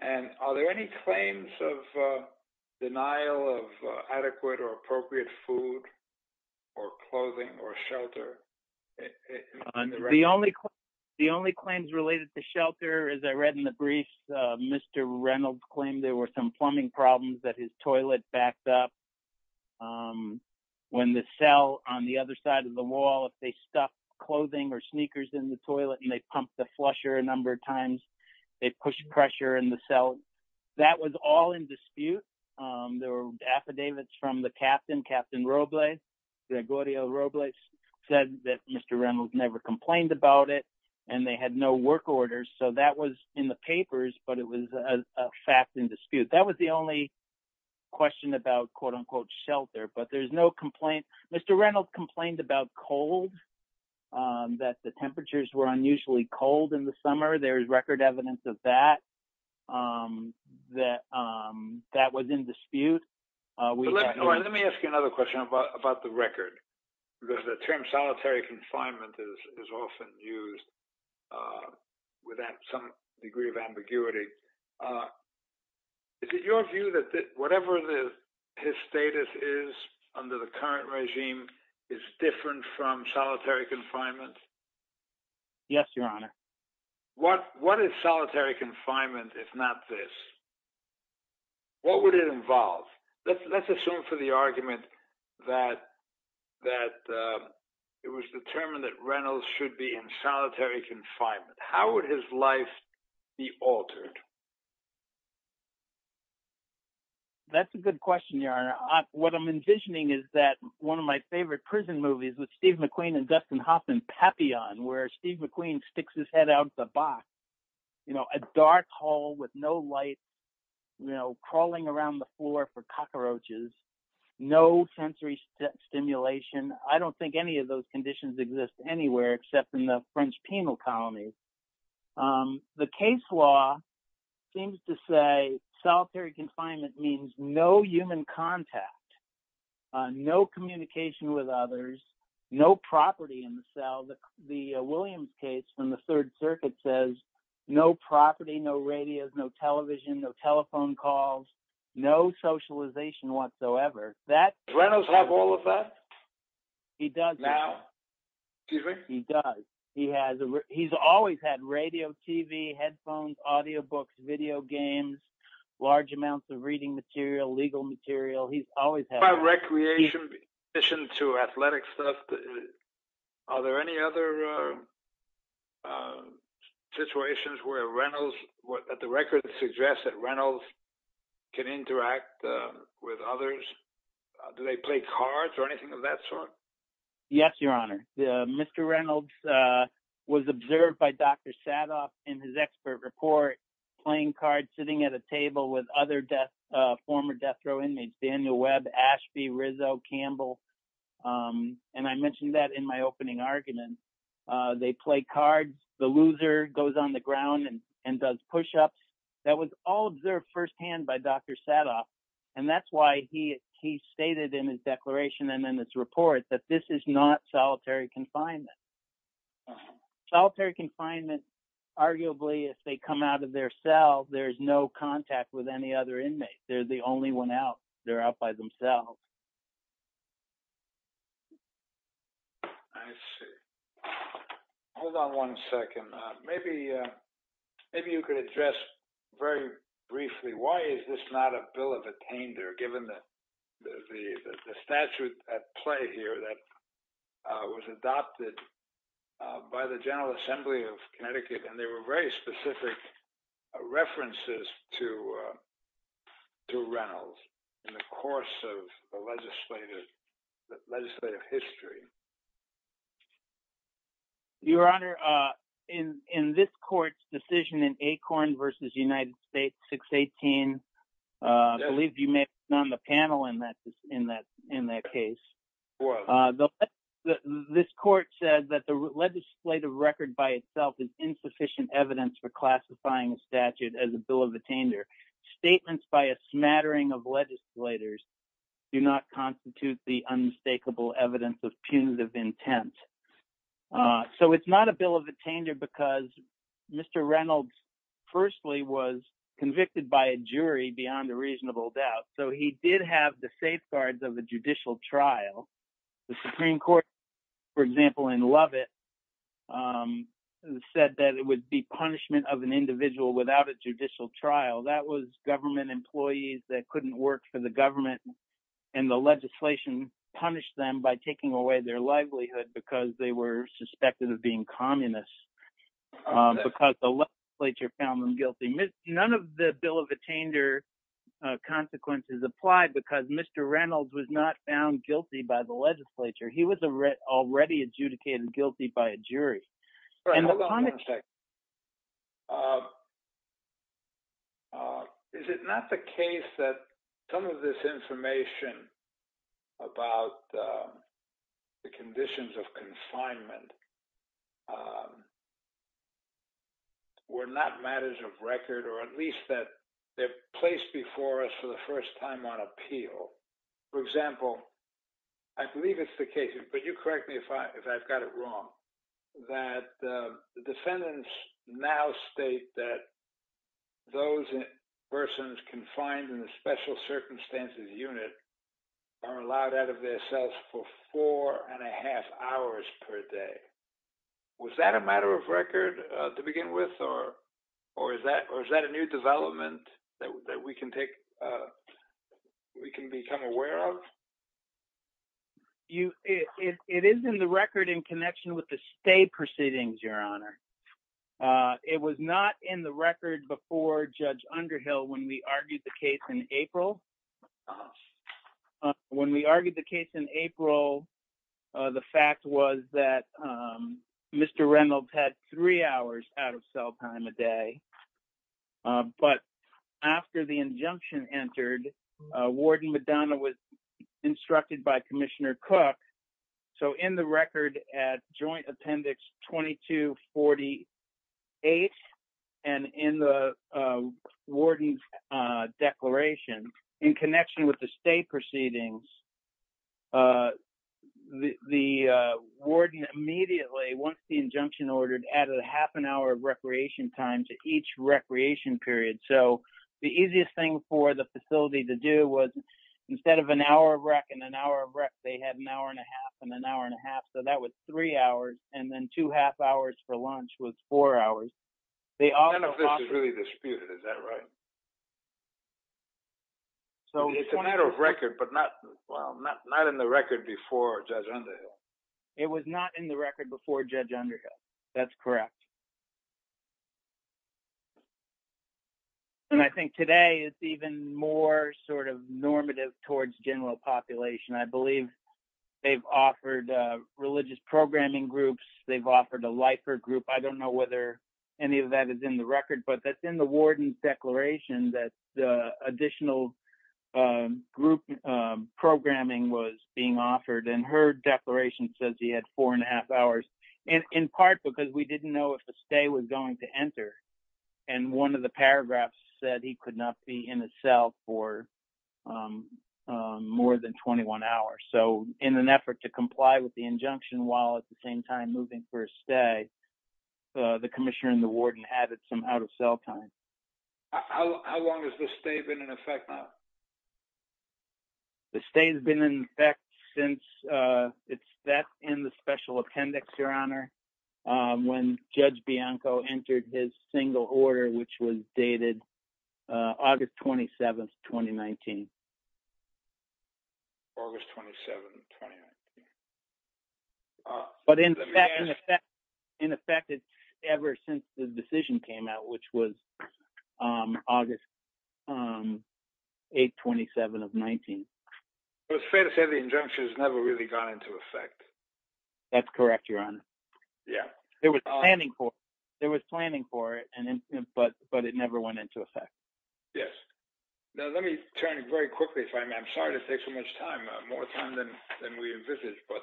And are there any claims of denial of adequate or appropriate food or clothing or shelter? The only claims related to shelter is I read in the brief, Mr. Reynolds claimed there were some plumbing problems that his toilet backed up. When the cell on the other side of the wall, if they stuffed clothing or sneakers in the toilet and they pumped the flusher a number of times, it pushed pressure in the cell. That was all in dispute. There were affidavits from the captain, Captain Robles, Gregorio Robles, said that Mr. Reynolds never complained about it and they had no work orders. So that was in the papers, but it was a fact in dispute. That was the only question about quote unquote shelter, but there's no complaint. Mr. Reynolds complained about cold, that the temperatures were unusually cold in the summer. There's record evidence of that, that was in dispute. Let me ask you another question about the record. The term solitary confinement is often used with some degree of ambiguity. Is it your view that whatever his status is under the current regime is different from solitary confinement? Yes, your honor. What is solitary confinement if not this? What would it involve? Let's assume for the argument that it was determined that Reynolds should be in solitary confinement. How would his life be altered? That's a good question, your honor. What I'm envisioning is that one of my favorite prison movies with Steve McQueen and Dustin Hoffman, Papillon, where Steve McQueen sticks his head out the box, a dark hall with no light, crawling around the floor for cockroaches, no sensory stimulation. I don't think any of those conditions exist anywhere except in the French penal colony. The case law seems to say solitary confinement means no human contact, no communication with others, no property in the cell. The Williams case from the Third Circuit says no property, no radios, no television, no telephone calls, no socialization whatsoever. That- Does Reynolds have all of that? He does. He does. He's always had radio, TV, headphones, audio books, video games, large amounts of reading material, legal material. He's always had- What about recreation in addition to athletic stuff? Are there any other situations where Reynolds, that the records suggest that Reynolds can interact with others? Do they play cards or anything of that sort? Yes, Your Honor. Mr. Reynolds was observed by Dr. Sadoff in his expert report, playing cards, sitting at a table with other former death row inmates, Daniel Webb, Ashby, Rizzo, Campbell. And I mentioned that in my opening argument. They play cards. The loser goes on the ground and does pushups. That was all observed firsthand by Dr. Sadoff. And that's why he stated in his declaration and in his report that this is not solitary confinement. Solitary confinement, arguably, if they come out of their cell, there's no contact with any other inmates. They're the only one out. They're out by themselves. I see. Hold on one second. Maybe you could address very briefly, why is this not a bill of attainder, given that the statute at play here that was adopted by the General Assembly of Connecticut, and there were very specific references to Reynolds in the course of the legislative process. The legislative history. Your Honor, in this court's decision in Acorn versus United States 618, I believe you may have been on the panel in that case. This court said that the legislative record by itself is insufficient evidence for classifying a statute as a bill of attainder. Statements by a smattering of legislators do not constitute the unmistakable evidence of punitive intent. So it's not a bill of attainder because Mr. Reynolds firstly was convicted by a jury beyond a reasonable doubt. So he did have the safeguards of a judicial trial. The Supreme Court, for example, in Lovett, said that it would be punishment of an individual without a judicial trial. That was government employees that couldn't work for the government and the legislation punished them by taking away their livelihood because they were suspected of being communists because the legislature found them guilty. None of the bill of attainder consequences applied because Mr. Reynolds was not found guilty by the legislature. He was already adjudicated guilty by a jury. And the- Is it not the case that some of this information about the conditions of confinement were not matters of record, or at least that they're placed before us for the first time on appeal? For example, I believe it's the case, but you correct me if I've got it wrong, that the defendants now state that those persons confined in a special circumstances unit are allowed out of their cells for four and a half hours per day. Was that a matter of record to begin with, or is that a new development that we can take, we can become aware of? It is in the record in connection with the state proceedings, Your Honor. It was not in the record before Judge Underhill when we argued the case in April. When we argued the case in April, the fact was that Mr. Reynolds had three hours out of cell time a day. But after the injunction entered, Warden Madonna was instructed by Commissioner Cook. So in the record at Joint Appendix 2248, and in the warden's declaration, in connection with the state proceedings, the warden immediately, once the injunction ordered, added a half an hour of recreation time to each recreation period. So the easiest thing for the facility to do was instead of an hour of rec and an hour of rec, they had an hour and a half and an hour and a half. So that was three hours. And then two half hours for lunch was four hours. They all- None of this is really disputed, is that right? So it's a matter of record, but not in the record before Judge Underhill. It was not in the record before Judge Underhill. That's correct. And I think today it's even more sort of normative towards general population. I believe they've offered religious programming groups. They've offered a Lifert group. I don't know whether any of that is in the record, but that's in the warden's declaration that additional group programming was being offered. And her declaration says he had four and a half hours, in part because we didn't know if a stay was going to enter. And one of the paragraphs said he could not be in a cell for more than 21 hours. So in an effort to comply with the injunction while at the same time moving for a stay, the commissioner and the warden added some out-of-cell time. How long has the stay been in effect now? in the special appendix, Your Honor, when Judge Bianco entered his single order, which was dated August 27th, 2019. August 27th, 2019. But in effect, it's ever since the decision came out, which was August 8th, 27th of 19. It's fair to say the injunction has never really gone into effect. That's correct, Your Honor. Yeah. It was planning for it, but it never went into effect. Yes. Now, let me turn it very quickly. I'm sorry to take so much time, more time than we envisaged, but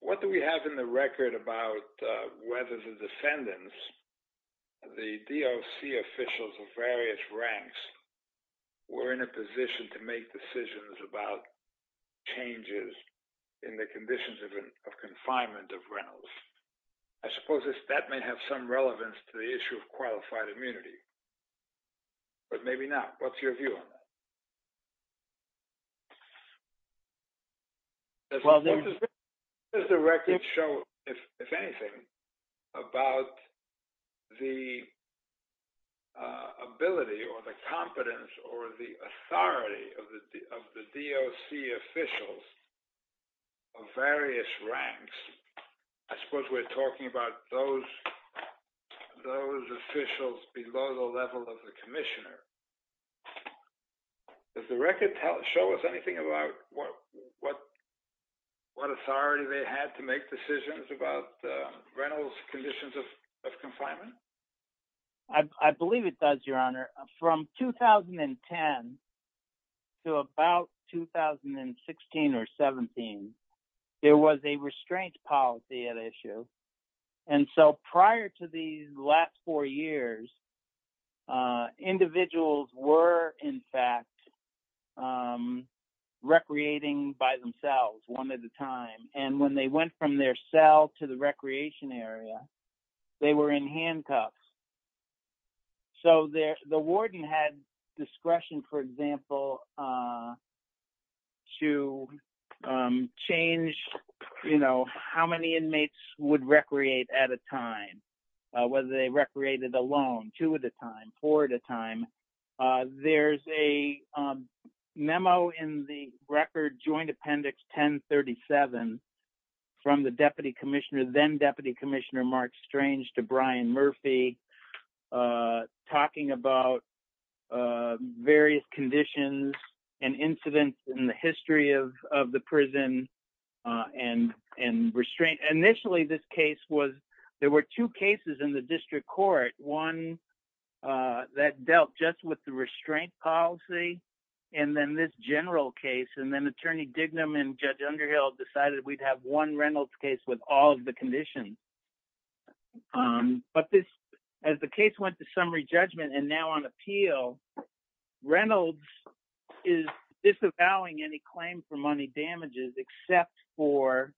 what do we have in the record about whether the defendants, the DOC officials of various ranks were in a position to make decisions about changes in the conditions of confinement of rentals? I suppose that may have some relevance to the issue of qualified immunity, but maybe not. What's your view on that? Does the record show, if anything, about the ability or the time or the authority of the DOC officials of various ranks? I suppose we're talking about those officials below the level of the commissioner. Does the record show us anything about what authority they had to make decisions about the rentals conditions of confinement? I believe it does, Your Honor. From 2010 to about 2016 or 17, there was a restraint policy at issue. And so prior to these last four years, individuals were in fact recreating by themselves one at a time. And when they went from their cell to the recreation area, they were in handcuffs. So the warden had discretion, for example, to change how many inmates would recreate at a time, whether they recreated alone, two at a time, four at a time. There's a memo in the record, Joint Appendix 1037, from the Deputy Commissioner, then Deputy Commissioner Mark Strange to Brian Murphy. Talking about various conditions and incidents in the history of the prison and restraint. Initially this case was, there were two cases in the district court. One that dealt just with the restraint policy and then this general case. And then Attorney Dignam and Judge Underhill decided we'd have one rentals case with all of the conditions. But this, as the case went to summary judgment and now on appeal, Reynolds is disavowing any claim for money damages except for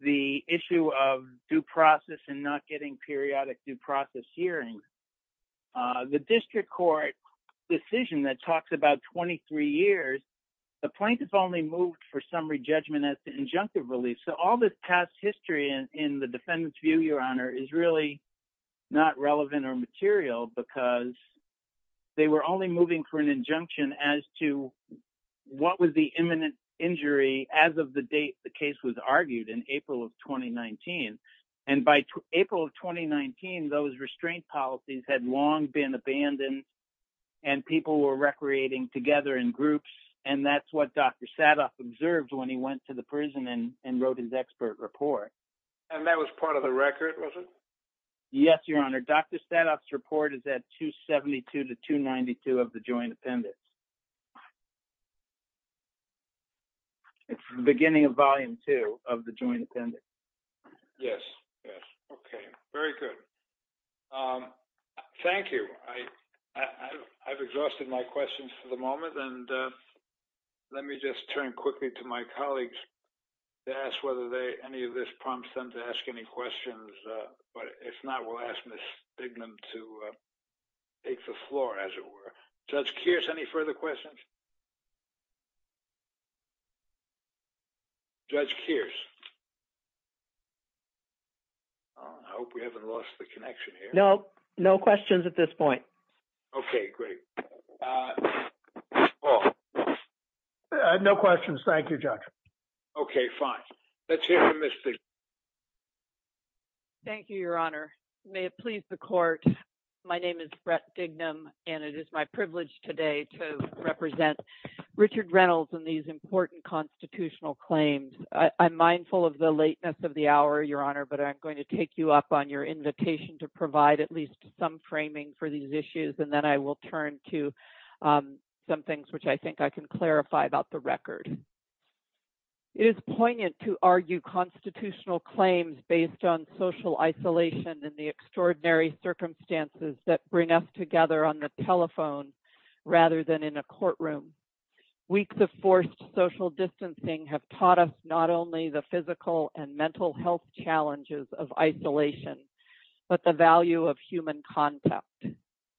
the issue of due process and not getting periodic due process hearings. The district court decision that talks about 23 years, the plaintiff only moved for summary judgment as the injunctive relief. So all this past history in the defendant's view, Your Honor, is really not relevant or material because they were only moving for an injunction as to what was the imminent injury as of the date the case was argued in April of 2019. And by April of 2019, those restraint policies had long been abandoned and people were recreating together in groups. And that's what Dr. Sadoff observed when he went to the prison and wrote his expert report. And that was part of the record, was it? Yes, Your Honor. Dr. Sadoff's report is at 272 to 292 of the joint appendix. It's the beginning of volume two of the joint appendix. Yes, yes. Okay, very good. Thank you. I've exhausted my questions for the moment and let me just turn quickly to my colleagues to ask whether any of this prompts them to ask any questions. But if not, we'll ask Ms. Bignam to take the floor as it were. Judge Kears, any further questions? Judge Kears. I hope we haven't lost the connection here. No, no questions at this point. Okay, great. Paul. No questions, thank you, Judge. Okay, fine. Let's hear from Ms. Bignam. Thank you, Your Honor. May it please the court. My name is Brett Bignam and it is my privilege today to represent Richard Reynolds in these important constitutional claims. I'm mindful of the lateness of the hour, Your Honor, but I'm going to take you up on your invitation to provide at least some framing for these issues. And then I will turn to some things which I think I can clarify about the record. It is poignant to argue constitutional claims based on social isolation and the extraordinary circumstances that bring us together on the telephone rather than in a courtroom. Weeks of forced social distancing have taught us not only the physical and mental health challenges of isolation, but the value of human contact.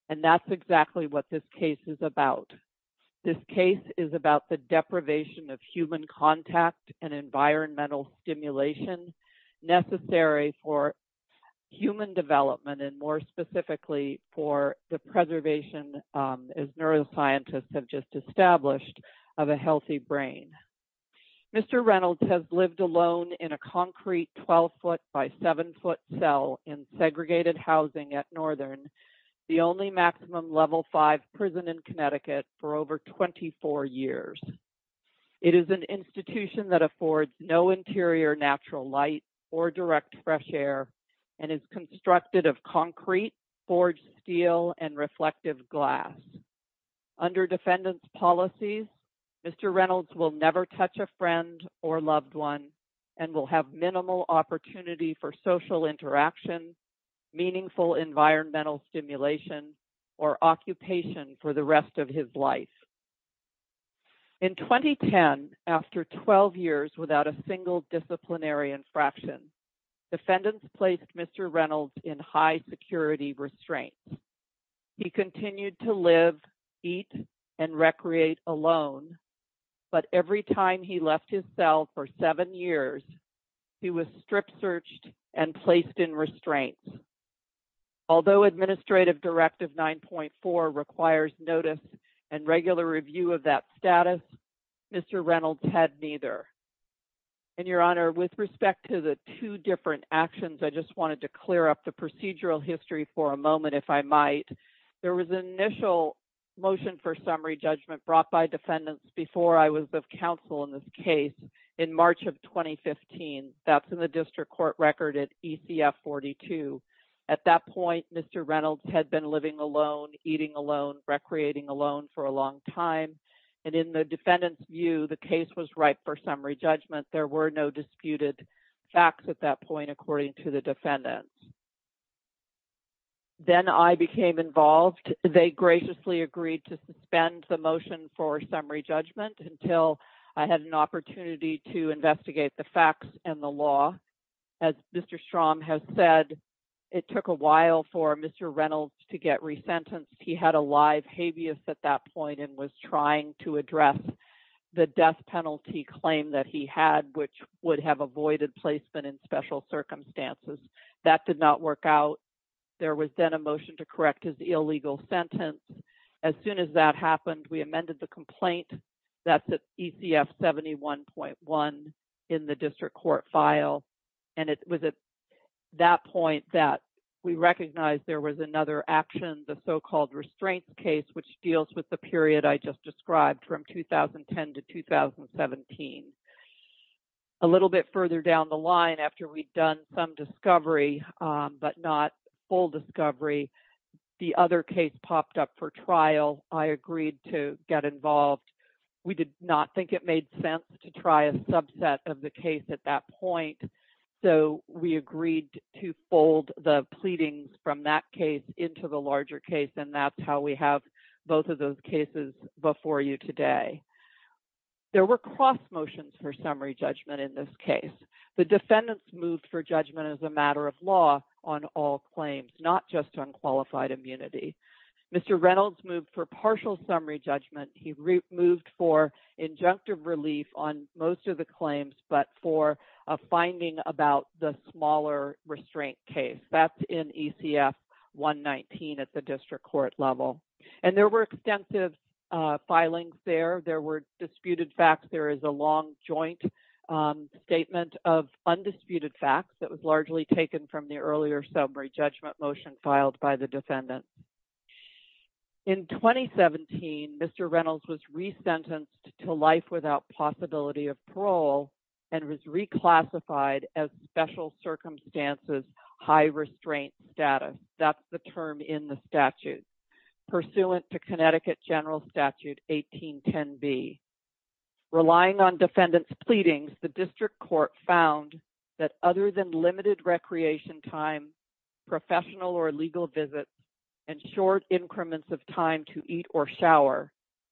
And that's exactly what this case is about. This case is about the deprivation of human contact and environmental stimulation necessary for human development and more specifically for the preservation, as neuroscientists have just established, of a healthy brain. Mr. Reynolds has lived alone in a concrete 12 foot by seven foot cell in segregated housing at Northern, the only maximum level five prison in Connecticut for over 24 years. It is an institution that affords no interior natural light or direct fresh air and is constructed of concrete, forged steel and reflective glass. Under defendant's policies, Mr. Reynolds will never touch a friend or loved one and will have minimal opportunity for social interaction, meaningful environmental stimulation or occupation for the rest of his life. In 2010, after 12 years without a single disciplinary infraction, defendants placed Mr. Reynolds in high security restraints. He continued to live, eat and recreate alone, but every time he left his cell for seven years, he was strip searched and placed in restraints. Although administrative directive 9.4 requires notice and regular review of that status, Mr. Reynolds had neither. And your honor, with respect to the two different actions, I just wanted to clear up the procedural history for a moment if I might. There was an initial motion for summary judgment brought by defendants before I was of counsel in this case in March of 2015. That's in the district court record at ECF 42. At that point, Mr. Reynolds had been living alone, eating alone, recreating alone for a long time. And in the defendant's view, the case was right for summary judgment. There were no disputed facts at that point according to the defendant. Then I became involved. They graciously agreed to suspend the motion for summary judgment until I had an opportunity to investigate the facts and the law. As Mr. Strom has said, it took a while for Mr. Reynolds to get resentenced. He had a live habeas at that point and was trying to address the death penalty claim that he had, which would have avoided placement in special circumstances. That did not work out. There was then a motion to correct his illegal sentence. As soon as that happened, we amended the complaint. That's at ECF 71.1 in the district court file. And it was at that point that we recognized there was another action, the so-called restraints case, which deals with the period I just described from 2010 to 2017. A little bit further down the line after we'd done some discovery, but not full discovery, the other case popped up for trial. I agreed to get involved. We did not think it made sense to try a subset of the case at that point. So we agreed to fold the pleadings from that case into the larger case. And that's how we have both of those cases before you today. The defendants moved for judgment as a matter of law on all claims, not just on qualified immunity. Mr. Reynolds moved for partial summary judgment. He moved for injunctive relief on most of the claims, but for a finding about the smaller restraint case. That's in ECF 119 at the district court level. And there were extensive filings there. There were disputed facts. There is a long joint statement of undisputed facts that was largely taken from the earlier summary judgment motion filed by the defendants. In 2017, Mr. Reynolds was resentenced to life without possibility of parole and was reclassified as special circumstances, high restraint status. That's the term in the statute. Pursuant to Connecticut General Statute 1810B. Relying on defendants pleadings, the district court found that other than limited recreation time, professional or legal visits and short increments of time to eat or shower,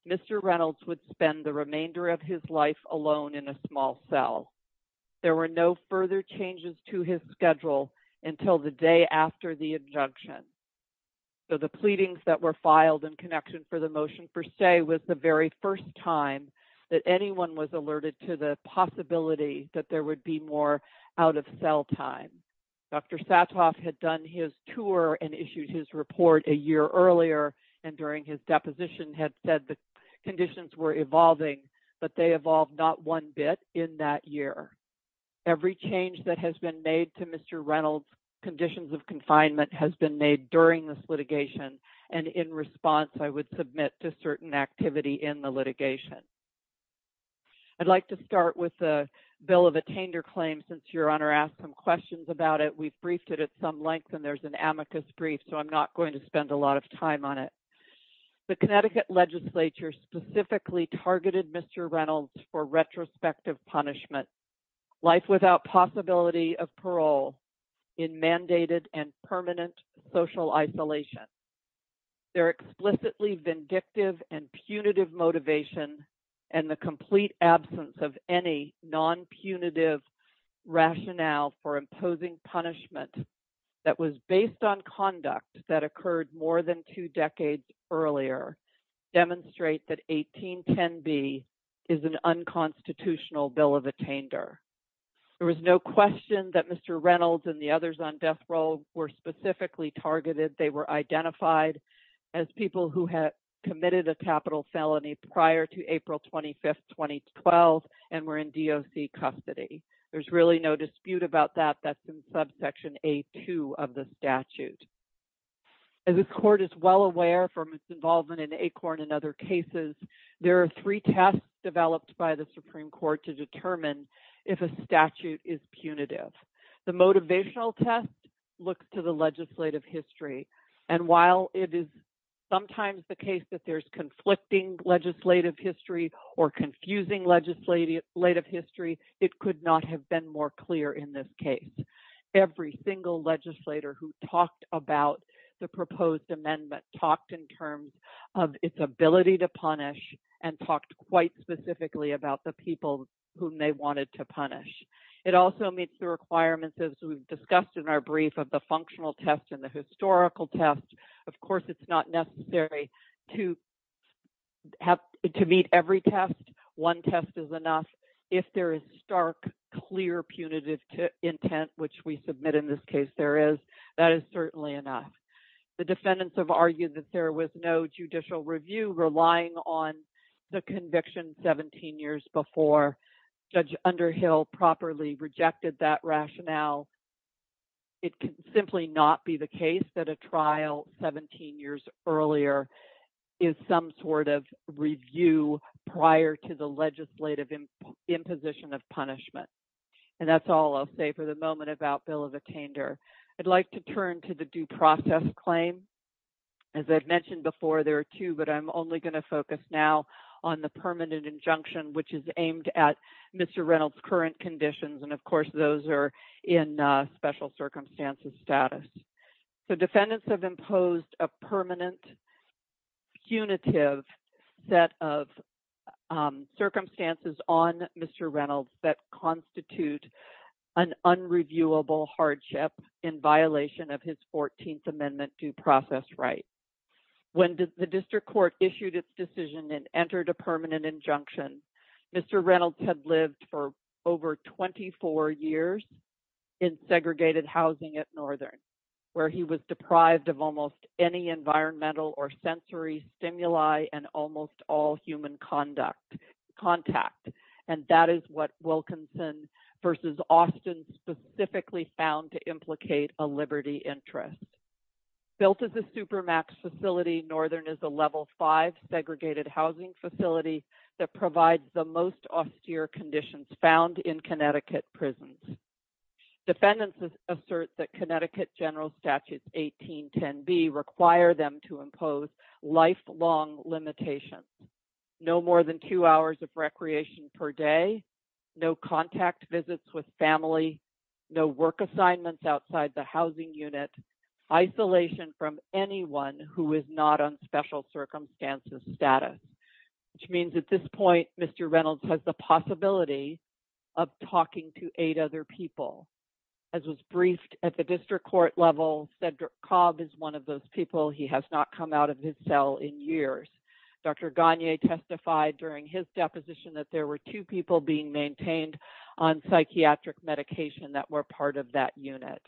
Mr. Reynolds would spend the remainder of his life alone in a small cell. There were no further changes to his schedule until the day after the injunction. So the pleadings that were filed in connection for the motion per se was the very first time that anyone was alerted to the possibility that there would be more out of cell time. Dr. Satoff had done his tour and issued his report a year earlier. And during his deposition had said the conditions were evolving but they evolved not one bit in that year. Every change that has been made to Mr. Reynolds conditions of confinement has been made during this litigation. And in response, I would submit to certain activity in the litigation. I'd like to start with a bill of attainder claim since your honor asked some questions about it. We've briefed it at some length and there's an amicus brief. So I'm not going to spend a lot of time on it. The Connecticut legislature specifically targeted Mr. Reynolds for retrospective punishment, life without possibility of parole in mandated and permanent social isolation. They're explicitly vindictive and punitive motivation and the complete absence of any non-punitive rationale for imposing punishment that was based on conduct that occurred more than two decades earlier demonstrate that 1810B is an unconstitutional bill of attainder. There was no question that Mr. Reynolds and the others on death row were specifically targeted. They were identified as people who had committed a capital felony prior to April 25th, 2012 and were in DOC custody. There's really no dispute about that. That's in subsection A2 of the statute. As this court is well aware from its involvement in ACORN and other cases, there are three tests developed by the Supreme Court to determine if a statute is punitive. The motivational test looks to the legislative history. And while it is sometimes the case that there's conflicting legislative history or confusing legislative history, it could not have been more clear in this case. Every single legislator who talked about the proposed amendment talked in terms of its ability to punish and talked quite specifically about the people whom they wanted to punish. It also meets the requirements as we've discussed in our brief of the functional test and the historical test. Of course, it's not necessary to meet every test. One test is enough. If there is stark, clear punitive intent, which we submit in this case there is, that is certainly enough. The defendants have argued that there was no judicial review relying on the conviction 17 years before. Judge Underhill properly rejected that rationale. It could simply not be the case that a trial 17 years earlier is some sort of review prior to the legislative imposition of punishment. And that's all I'll say for the moment about bill of attainder. I'd like to turn to the due process claim. As I've mentioned before, there are two, but I'm only gonna focus now on the permanent injunction, which is aimed at Mr. Reynolds' current conditions. And of course those are in special circumstances status. The defendants have imposed a permanent punitive set of circumstances on Mr. Reynolds that constitute an unreviewable hardship in violation of his 14th amendment due process right. When the district court issued its decision and entered a permanent injunction, Mr. Reynolds had lived for over 24 years in segregated housing at Northern, where he was deprived of almost any environmental or sensory stimuli and almost all human contact. And that is what Wilkinson versus Austin specifically found to implicate a liberty interest. Built as a supermax facility, Northern is a level five segregated housing facility that provides the most austere conditions found in Connecticut prisons. Defendants assert that Connecticut general statutes 1810B require them to impose lifelong limitations. No more than two hours of recreation per day, no contact visits with family, no work assignments outside the housing unit, isolation from anyone who is not on special circumstances status, which means at this point, Mr. Reynolds has the possibility of talking to eight other people. As was briefed at the district court level, Cedric Cobb is one of those people he has not come out of his cell in years. Dr. Gagne testified during his deposition that there were two people being maintained on psychiatric medication that were part of that unit.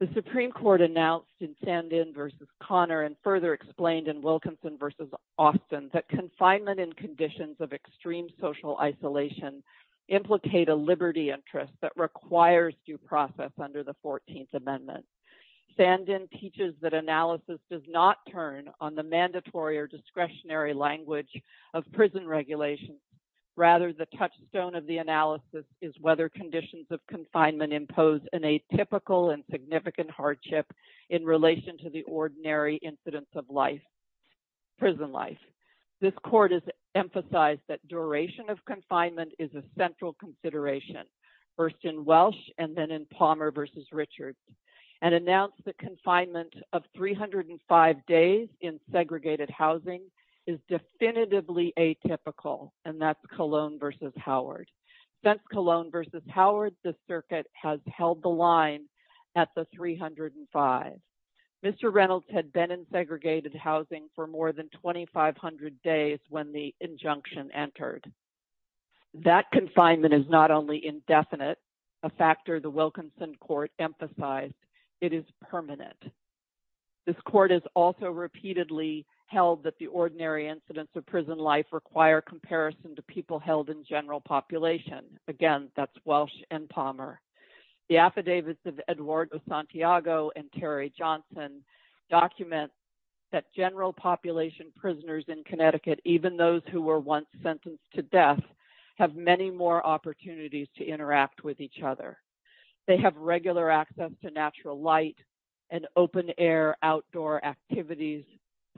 The Supreme Court announced in Sandin versus Connor and further explained in Wilkinson versus Austin that confinement and conditions of extreme social isolation implicate a liberty interest that requires due process under the 14th Amendment. Sandin teaches that analysis does not turn on the mandatory or discretionary language of prison regulations, rather the touchstone of the analysis is whether conditions of confinement impose an atypical and significant hardship in relation to the ordinary incidents of life, prison life. This court has emphasized that duration of confinement is a central consideration, first in Welsh and then in Palmer versus Richards and announced the confinement of 305 days in segregated housing is definitively atypical and that's Cologne versus Howard. Since Cologne versus Howard, the circuit has held the line at the 305. Mr. Reynolds had been in segregated housing for more than 2,500 days when the injunction entered. That confinement is not only indefinite, a factor the Wilkinson Court emphasized, it is permanent. This court has also repeatedly held that the ordinary incidents of prison life require comparison to people held in general population. Again, that's Welsh and Palmer. The affidavits of Eduardo Santiago and Terry Johnson document that general population prisoners in Connecticut, even those who were once sentenced to death have many more opportunities to interact with each other. They have regular access to natural light and open air outdoor activities,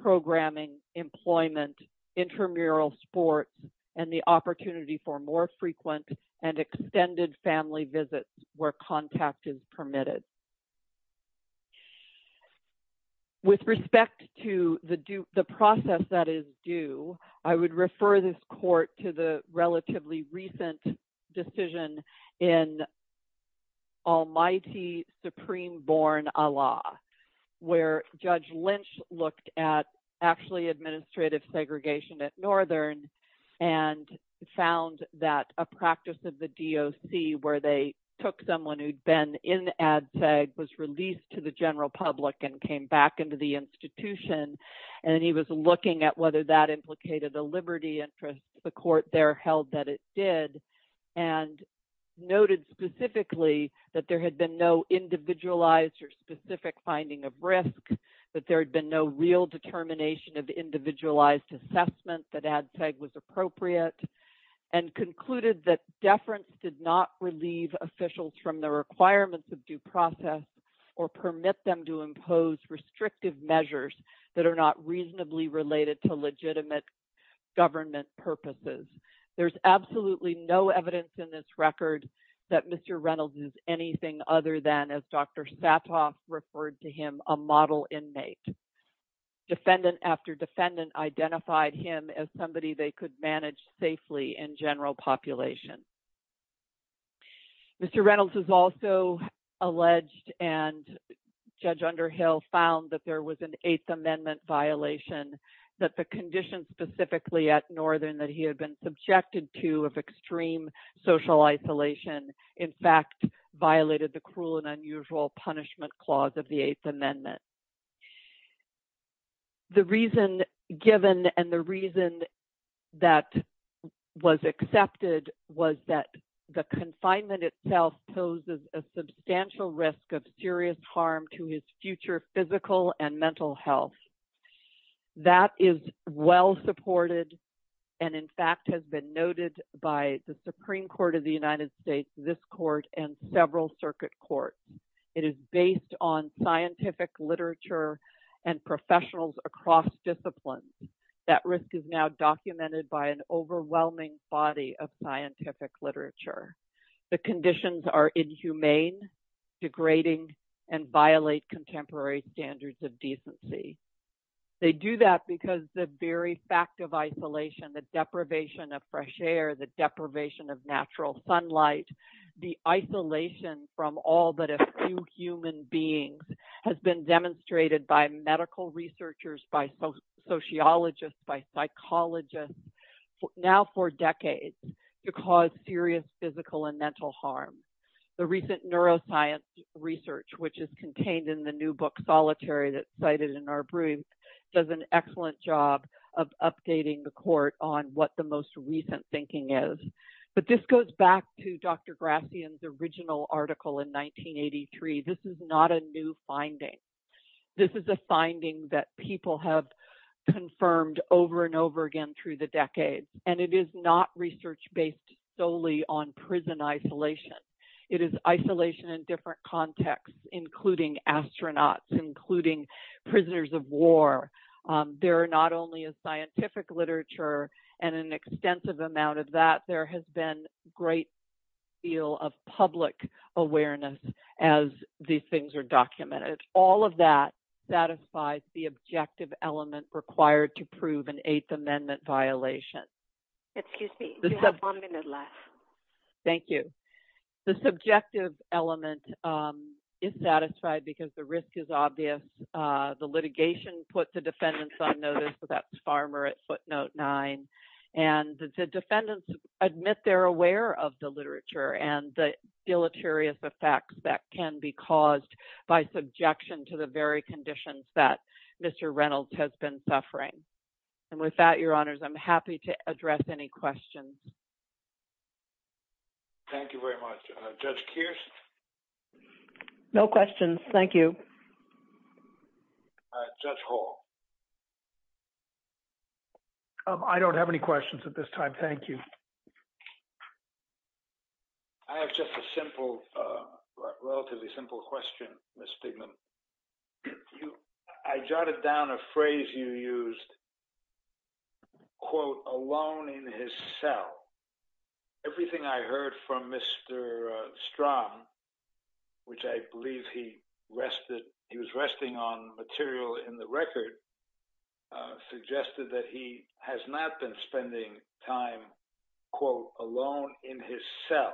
programming, employment, intramural sports and the opportunity for more frequent and extended family visits where contact is permitted. With respect to the process that is due, I would refer this court to the relatively recent decision in Almighty Supreme Born Allah, where Judge Lynch looked at actually administrative segregation at Northern and found that a practice of the DOC where they took someone who'd been in ADCEG was released to the general public and came back into the institution. And he was looking at whether that implicated a liberty interest, the court there held that it did and noted specifically that there had been no individualized or specific finding of risk, that there had been no real determination of the individualized assessment that ADCEG was appropriate and concluded that deference did not relieve officials from the requirements of due process or permit them to impose restrictive measures that are not reasonably related to legitimate government purposes. There's absolutely no evidence in this record that Mr. Reynolds is anything other than as Dr. Satoff referred to him, a model inmate. Defendant after defendant identified him as somebody they could manage safely in general population. Mr. Reynolds is also alleged and Judge Underhill found that there was an Eighth Amendment violation that the condition specifically at Northern that he had been subjected to of extreme social isolation, in fact violated the cruel and unusual punishment clause of the Eighth Amendment. The reason given and the reason that was accepted was that the confinement itself poses a substantial risk of serious harm to his future physical and mental health. That is well supported and in fact has been noted by the Supreme Court of the United States, this court and several circuit courts. It is based on scientific literature and professionals across disciplines. That risk is now documented by an overwhelming body of scientific literature. The conditions are inhumane, degrading and violate contemporary standards of decency. They do that because the very fact of isolation, the deprivation of fresh air, the deprivation of natural sunlight, the isolation from all but a few human beings has been demonstrated by medical researchers, by sociologists, by psychologists now for decades to cause serious physical and mental harm. The recent neuroscience research which is contained in the new book, Solitary that's cited in our brief does an excellent job of updating the court on what the most recent thinking is. But this goes back to Dr. Grathian's original article in 1983, this is not a new finding. This is a finding that people have confirmed over and over again through the decades and it is not research based solely on prison isolation. It is isolation in different contexts, including astronauts, including prisoners of war. There are not only a scientific literature and an extensive amount of that, there has been great deal of public awareness as these things are documented. All of that satisfies the objective element required to prove an Eighth Amendment violation. Excuse me, you have one minute left. Thank you. The subjective element is satisfied because the risk is obvious. The litigation puts the defendants on notice so that's Farmer at footnote nine. And the defendants admit they're aware of the literature and the deleterious effects that can be caused by subjection to the very conditions that Mr. Reynolds has been suffering. And with that, your honors, I'm happy to address any questions. Thank you very much. Judge Kirsten. No questions, thank you. Judge Hall. I don't have any questions at this time, thank you. I have just a simple, relatively simple question, Ms. Stigman. I jotted down a phrase you used, which is, quote, alone in his cell. Everything I heard from Mr. Strom, which I believe he rested, he was resting on material in the record, suggested that he has not been spending time, quote, alone in his cell.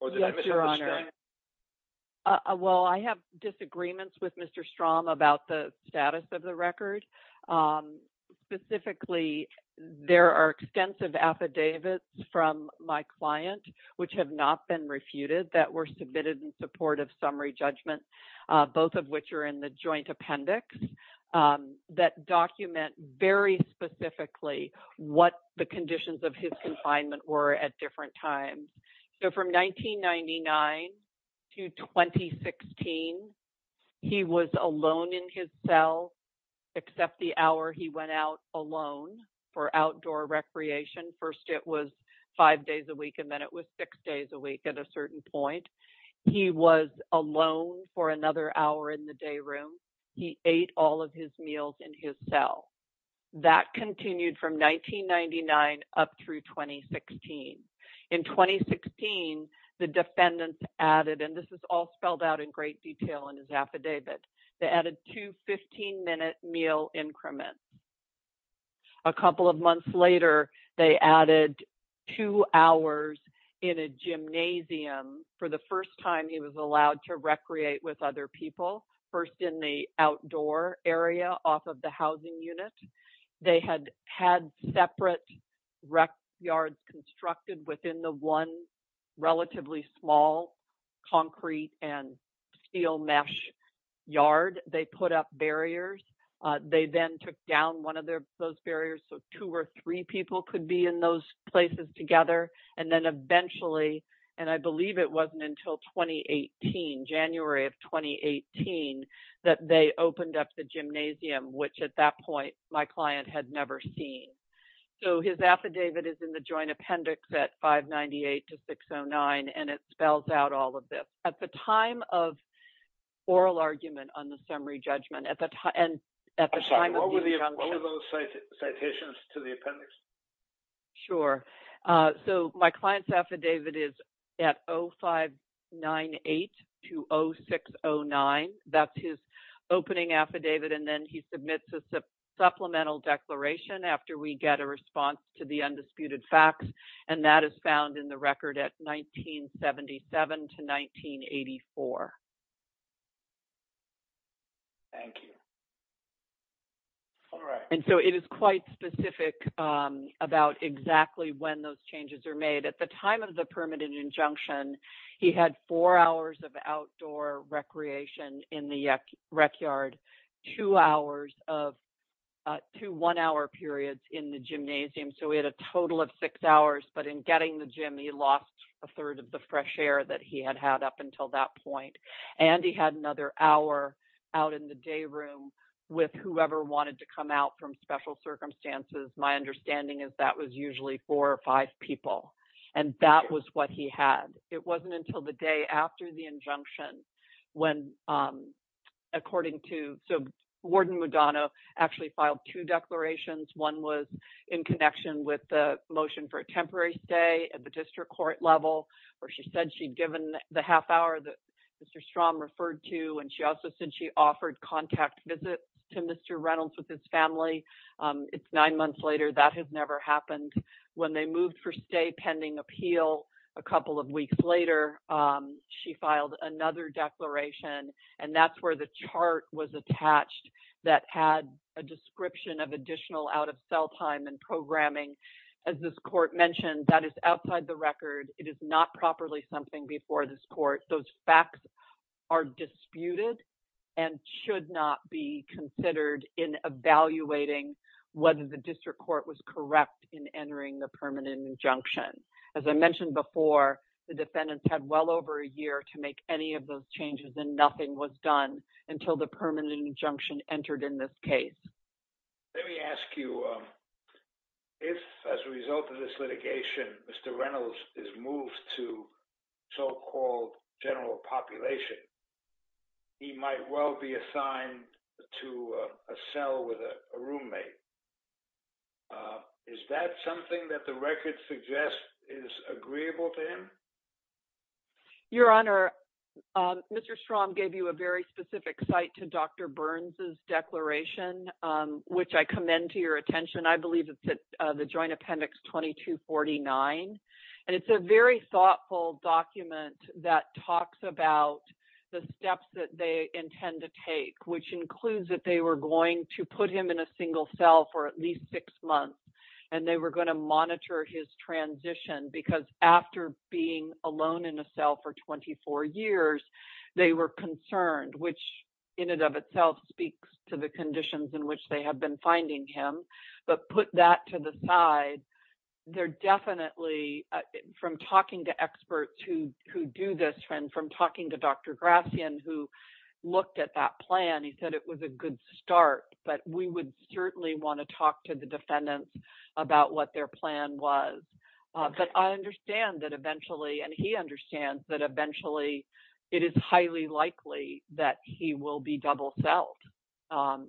Or did I misunderstand? Yes, your honor. Well, I have disagreements with Mr. Strom about the status of the record. Specifically, there are extensive affidavits from my client which have not been refuted that were submitted in support of summary judgment, both of which are in the joint appendix that document very specifically what the conditions of his confinement were at different times. So from 1999 to 2016, he was alone in his cell except the hour he went out alone for outdoor recreation. First, it was five days a week, and then it was six days a week at a certain point. He was alone for another hour in the day room. He ate all of his meals in his cell. That continued from 1999 up through 2016. In 2016, the defendants added, and this is all spelled out in great detail in his affidavit, they added two 15-minute meal increments. A couple of months later, they added two hours in a gymnasium for the first time he was allowed to recreate with other people, first in the outdoor area off of the housing unit. They had had separate rec yards constructed within the one relatively small concrete and steel mesh yard. They put up barriers. They then took down one of those barriers so two or three people could be in those places together. And then eventually, and I believe it wasn't until 2018, January of 2018, that they opened up the gymnasium, which at that point, my client had never seen. So his affidavit is in the joint appendix at 598 to 609, and it spells out all of this. At the time of oral argument on the summary judgment, at the time of the- I'm sorry, what were those citations to the appendix? Sure, so my client's affidavit is at 0598 to 0609. That's his opening affidavit, and then he submits a supplemental declaration after we get a response to the undisputed facts, and that is found in the record at 1977 to 1984. Thank you. All right. And so it is quite specific about exactly when those changes are made. At the time of the permanent injunction, he had four hours of outdoor recreation in the rec yard, two one-hour periods in the gymnasium. So we had a total of six hours, but in getting the gym, he lost a third of the fresh air that he had had up until that point. And he had another hour out in the day room with whoever wanted to come out from special circumstances. My understanding is that was usually four or five people, and that was what he had. It wasn't until the day after the injunction, when, according to Warden Mudano, actually filed two declarations. One was in connection with the motion for a temporary stay at the district court level, where she said she'd given the half hour that Mr. Strahm referred to, and she also said she offered contact visits to Mr. Reynolds with his family. It's nine months later. That has never happened. When they moved for stay pending appeal a couple of weeks later, she filed another declaration, and that's where the chart was attached that had a description of additional out-of-cell time and programming. As this court mentioned, that is outside the record. It is not properly something before this court. Those facts are disputed and should not be considered in evaluating whether the district court was correct in entering the permanent injunction. As I mentioned before, the defendants had well over a year to make any of those changes and nothing was done until the permanent injunction entered in this case. Let me ask you, if as a result of this litigation, Mr. Reynolds is moved to so-called general population, is that something that the record suggests is agreeable to him? Your Honor, Mr. Strahm gave you a very specific site to Dr. Burns' declaration, which I commend to your attention. I believe it's at the Joint Appendix 2249, and it's a very thoughtful document that talks about the steps that they intend to take, which includes that they were going to put him in a single cell for at least six months, and they were gonna monitor his transition because after being alone in a cell for 24 years, they were concerned, which in and of itself speaks to the conditions in which they have been finding him but put that to the side, they're definitely, from talking to experts who do this and from talking to Dr. Grafian who looked at that plan, he said it was a good start, but we would certainly wanna talk to the defendants about what their plan was. But I understand that eventually, and he understands that eventually, it is highly likely that he will be double-celled, and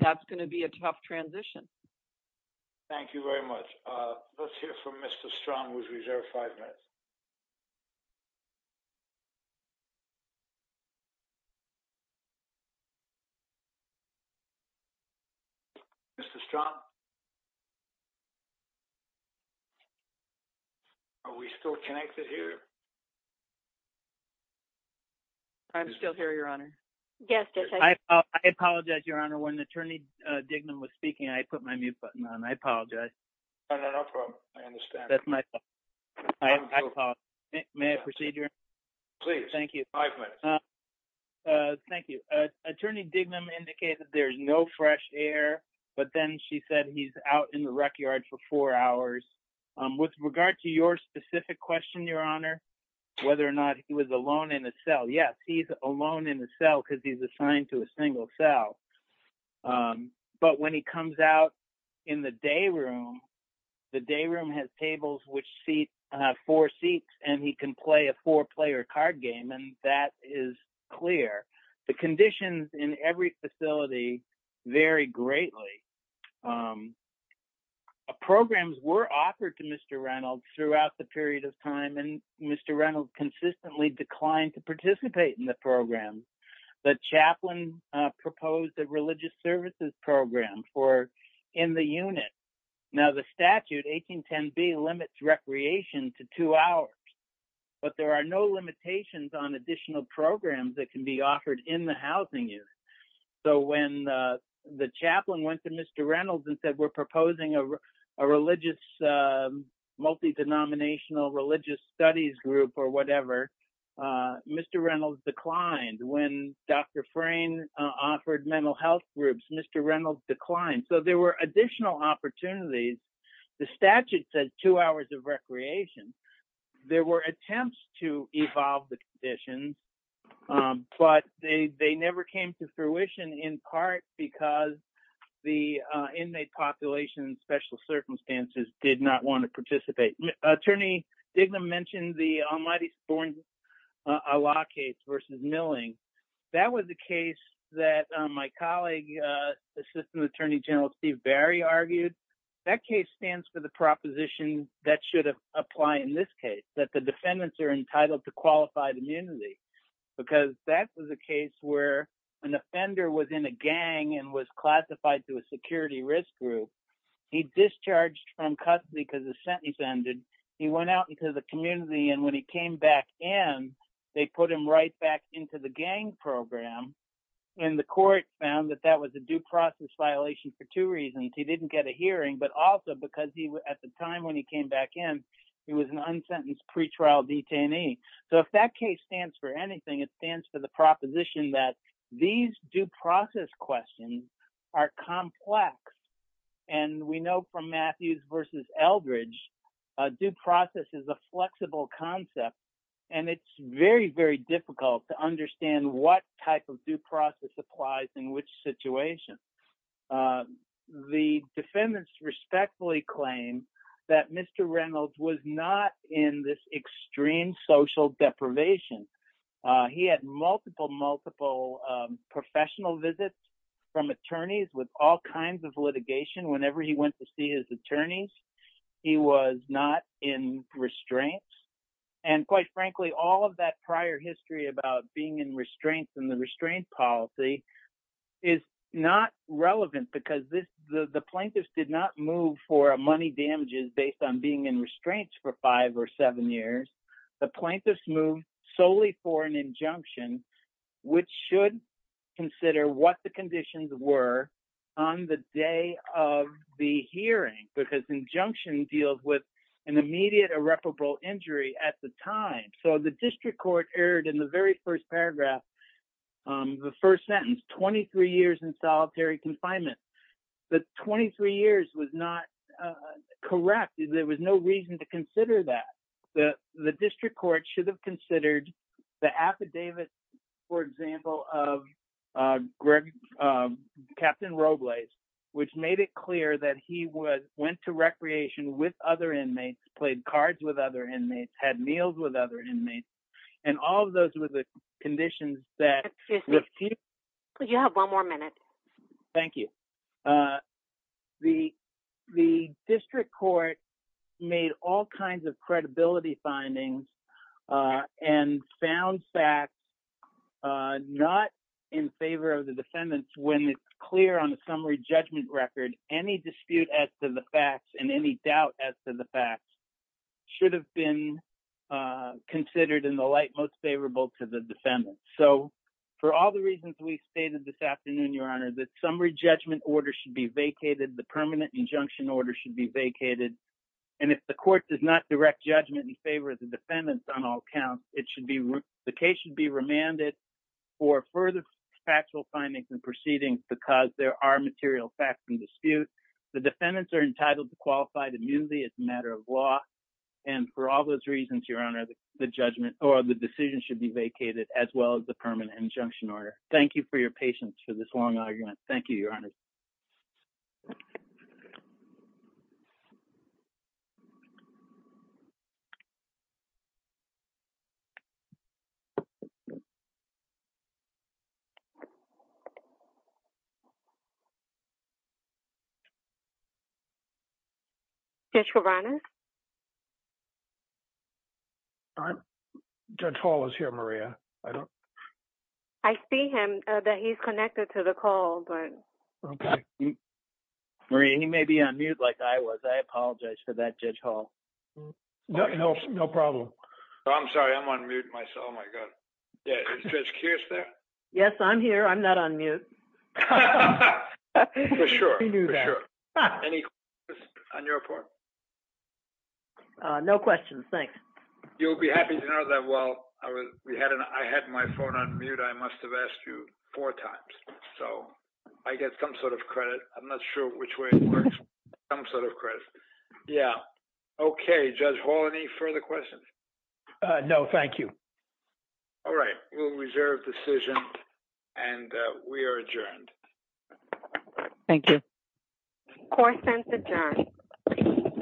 that's gonna be a tough transition. Thank you very much. Let's hear from Mr. Strahm, who's reserved five minutes. Mr. Strahm? Are we still connected here? I'm still here, Your Honor. Yes, Judge. I apologize, Your Honor, when Attorney Dignam was speaking, I put my mute button on, I apologize. Oh, no, no problem, I understand. That's my fault. I apologize. May I proceed, Your Honor? Please, five minutes. Thank you. Thank you. Attorney Dignam indicated there's no fresh air, but then she said he's out in the rec yard for four hours. With regard to your specific question, Your Honor, whether or not he was alone in a cell, yes, he's alone in a cell because he's assigned to a single cell. But when he comes out in the day room, the day room has tables which seat four seats, and he can play a four-player card game, and that is clear. The conditions in every facility vary greatly. Programs were offered to Mr. Reynolds throughout the period of time, and Mr. Reynolds consistently declined to participate in the program. The chaplain proposed a religious services program for in the unit. Now, the statute, 1810B, limits recreation to two hours, but there are no limitations on additional programs that can be offered in the housing unit. So when the chaplain went to Mr. Reynolds and said we're proposing a religious, multi-denominational religious studies group or whatever, Mr. Reynolds declined. When Dr. Frane offered mental health groups, Mr. Reynolds declined. So there were additional opportunities. The statute says two hours of recreation. There were attempts to evolve the conditions, but they never came to fruition, in part because the inmate population in special circumstances did not want to participate. Attorney Dignam mentioned the Almighty Spornes-Alaa case versus Milling. That was a case that my colleague, Assistant Attorney General Steve Barry argued. That case stands for the proposition that should apply in this case, that the defendants are entitled to qualified immunity because that was a case where an offender was in a gang and was classified to a security risk group. He discharged from custody because the sentence ended. He went out into the community, and when he came back in, they put him right back into the gang program, and the court found that that was a due process violation for two reasons. He didn't get a hearing, but also because at the time when he came back in, he was an unsentenced pretrial detainee. So if that case stands for anything, it stands for the proposition that these due process questions are complex. And we know from Matthews versus Eldridge, due process is a flexible concept, and it's very, very difficult to understand what type of due process applies in which situation. The defendants respectfully claim that Mr. Reynolds was not in this extreme social deprivation. He had multiple, multiple professional visits from attorneys with all kinds of litigation. Whenever he went to see his attorneys, he was not in restraints. And quite frankly, all of that prior history about being in restraints and the restraint policy is not relevant because the plaintiffs did not move for money damages based on being in restraints for five or seven years. The plaintiffs moved solely for an injunction, which should consider what the conditions were on the day of the hearing, because injunction deals with an immediate irreparable injury at the time. So the district court erred in the very first paragraph, the first sentence, 23 years in solitary confinement. The 23 years was not corrected. There was no reason to consider that. The district court should have considered the affidavits, for example, of Captain Robles, which made it clear that he went to recreation with other inmates, played cards with other inmates, had meals with other inmates, and all of those were the conditions that- Excuse me, could you have one more minute? Thank you. The district court made all kinds of credibility findings and found facts not in favor of the defendants when it's clear on the summary judgment record, any dispute as to the facts and any doubt as to the facts should have been considered in the light most favorable to the defendants. So for all the reasons we've stated this afternoon, the summary judgment order should be vacated. The permanent injunction order should be vacated. And if the court does not direct judgment in favor of the defendants on all counts, it should be, the case should be remanded for further factual findings and proceedings because there are material facts and disputes. The defendants are entitled to qualify to be viewed as a matter of law. And for all those reasons, Your Honor, the judgment or the decision should be vacated as well as the permanent injunction order. Thank you for your patience for this long argument. Thank you, Your Honor. Judge Verano. Judge Hall is here, Maria. I don't... I see him, that he's connected to the call, but... Okay. Maria, he may be on mute like I was. I apologize for that, Judge Hall. No problem. I'm sorry, I'm on mute myself, oh my God. Yeah, is Judge Kearse there? Yes, I'm here. I'm not on mute. For sure, for sure. Any questions on your report? No questions, thanks. You'll be happy to know that while I had my phone on mute, I must've asked you four times. So I get some sort of credit. I'm not sure which way it works, some sort of credit. Yeah. Okay, Judge Hall, any further questions? No, thank you. All right, we'll reserve decision and we are adjourned. Thank you. Court is adjourned.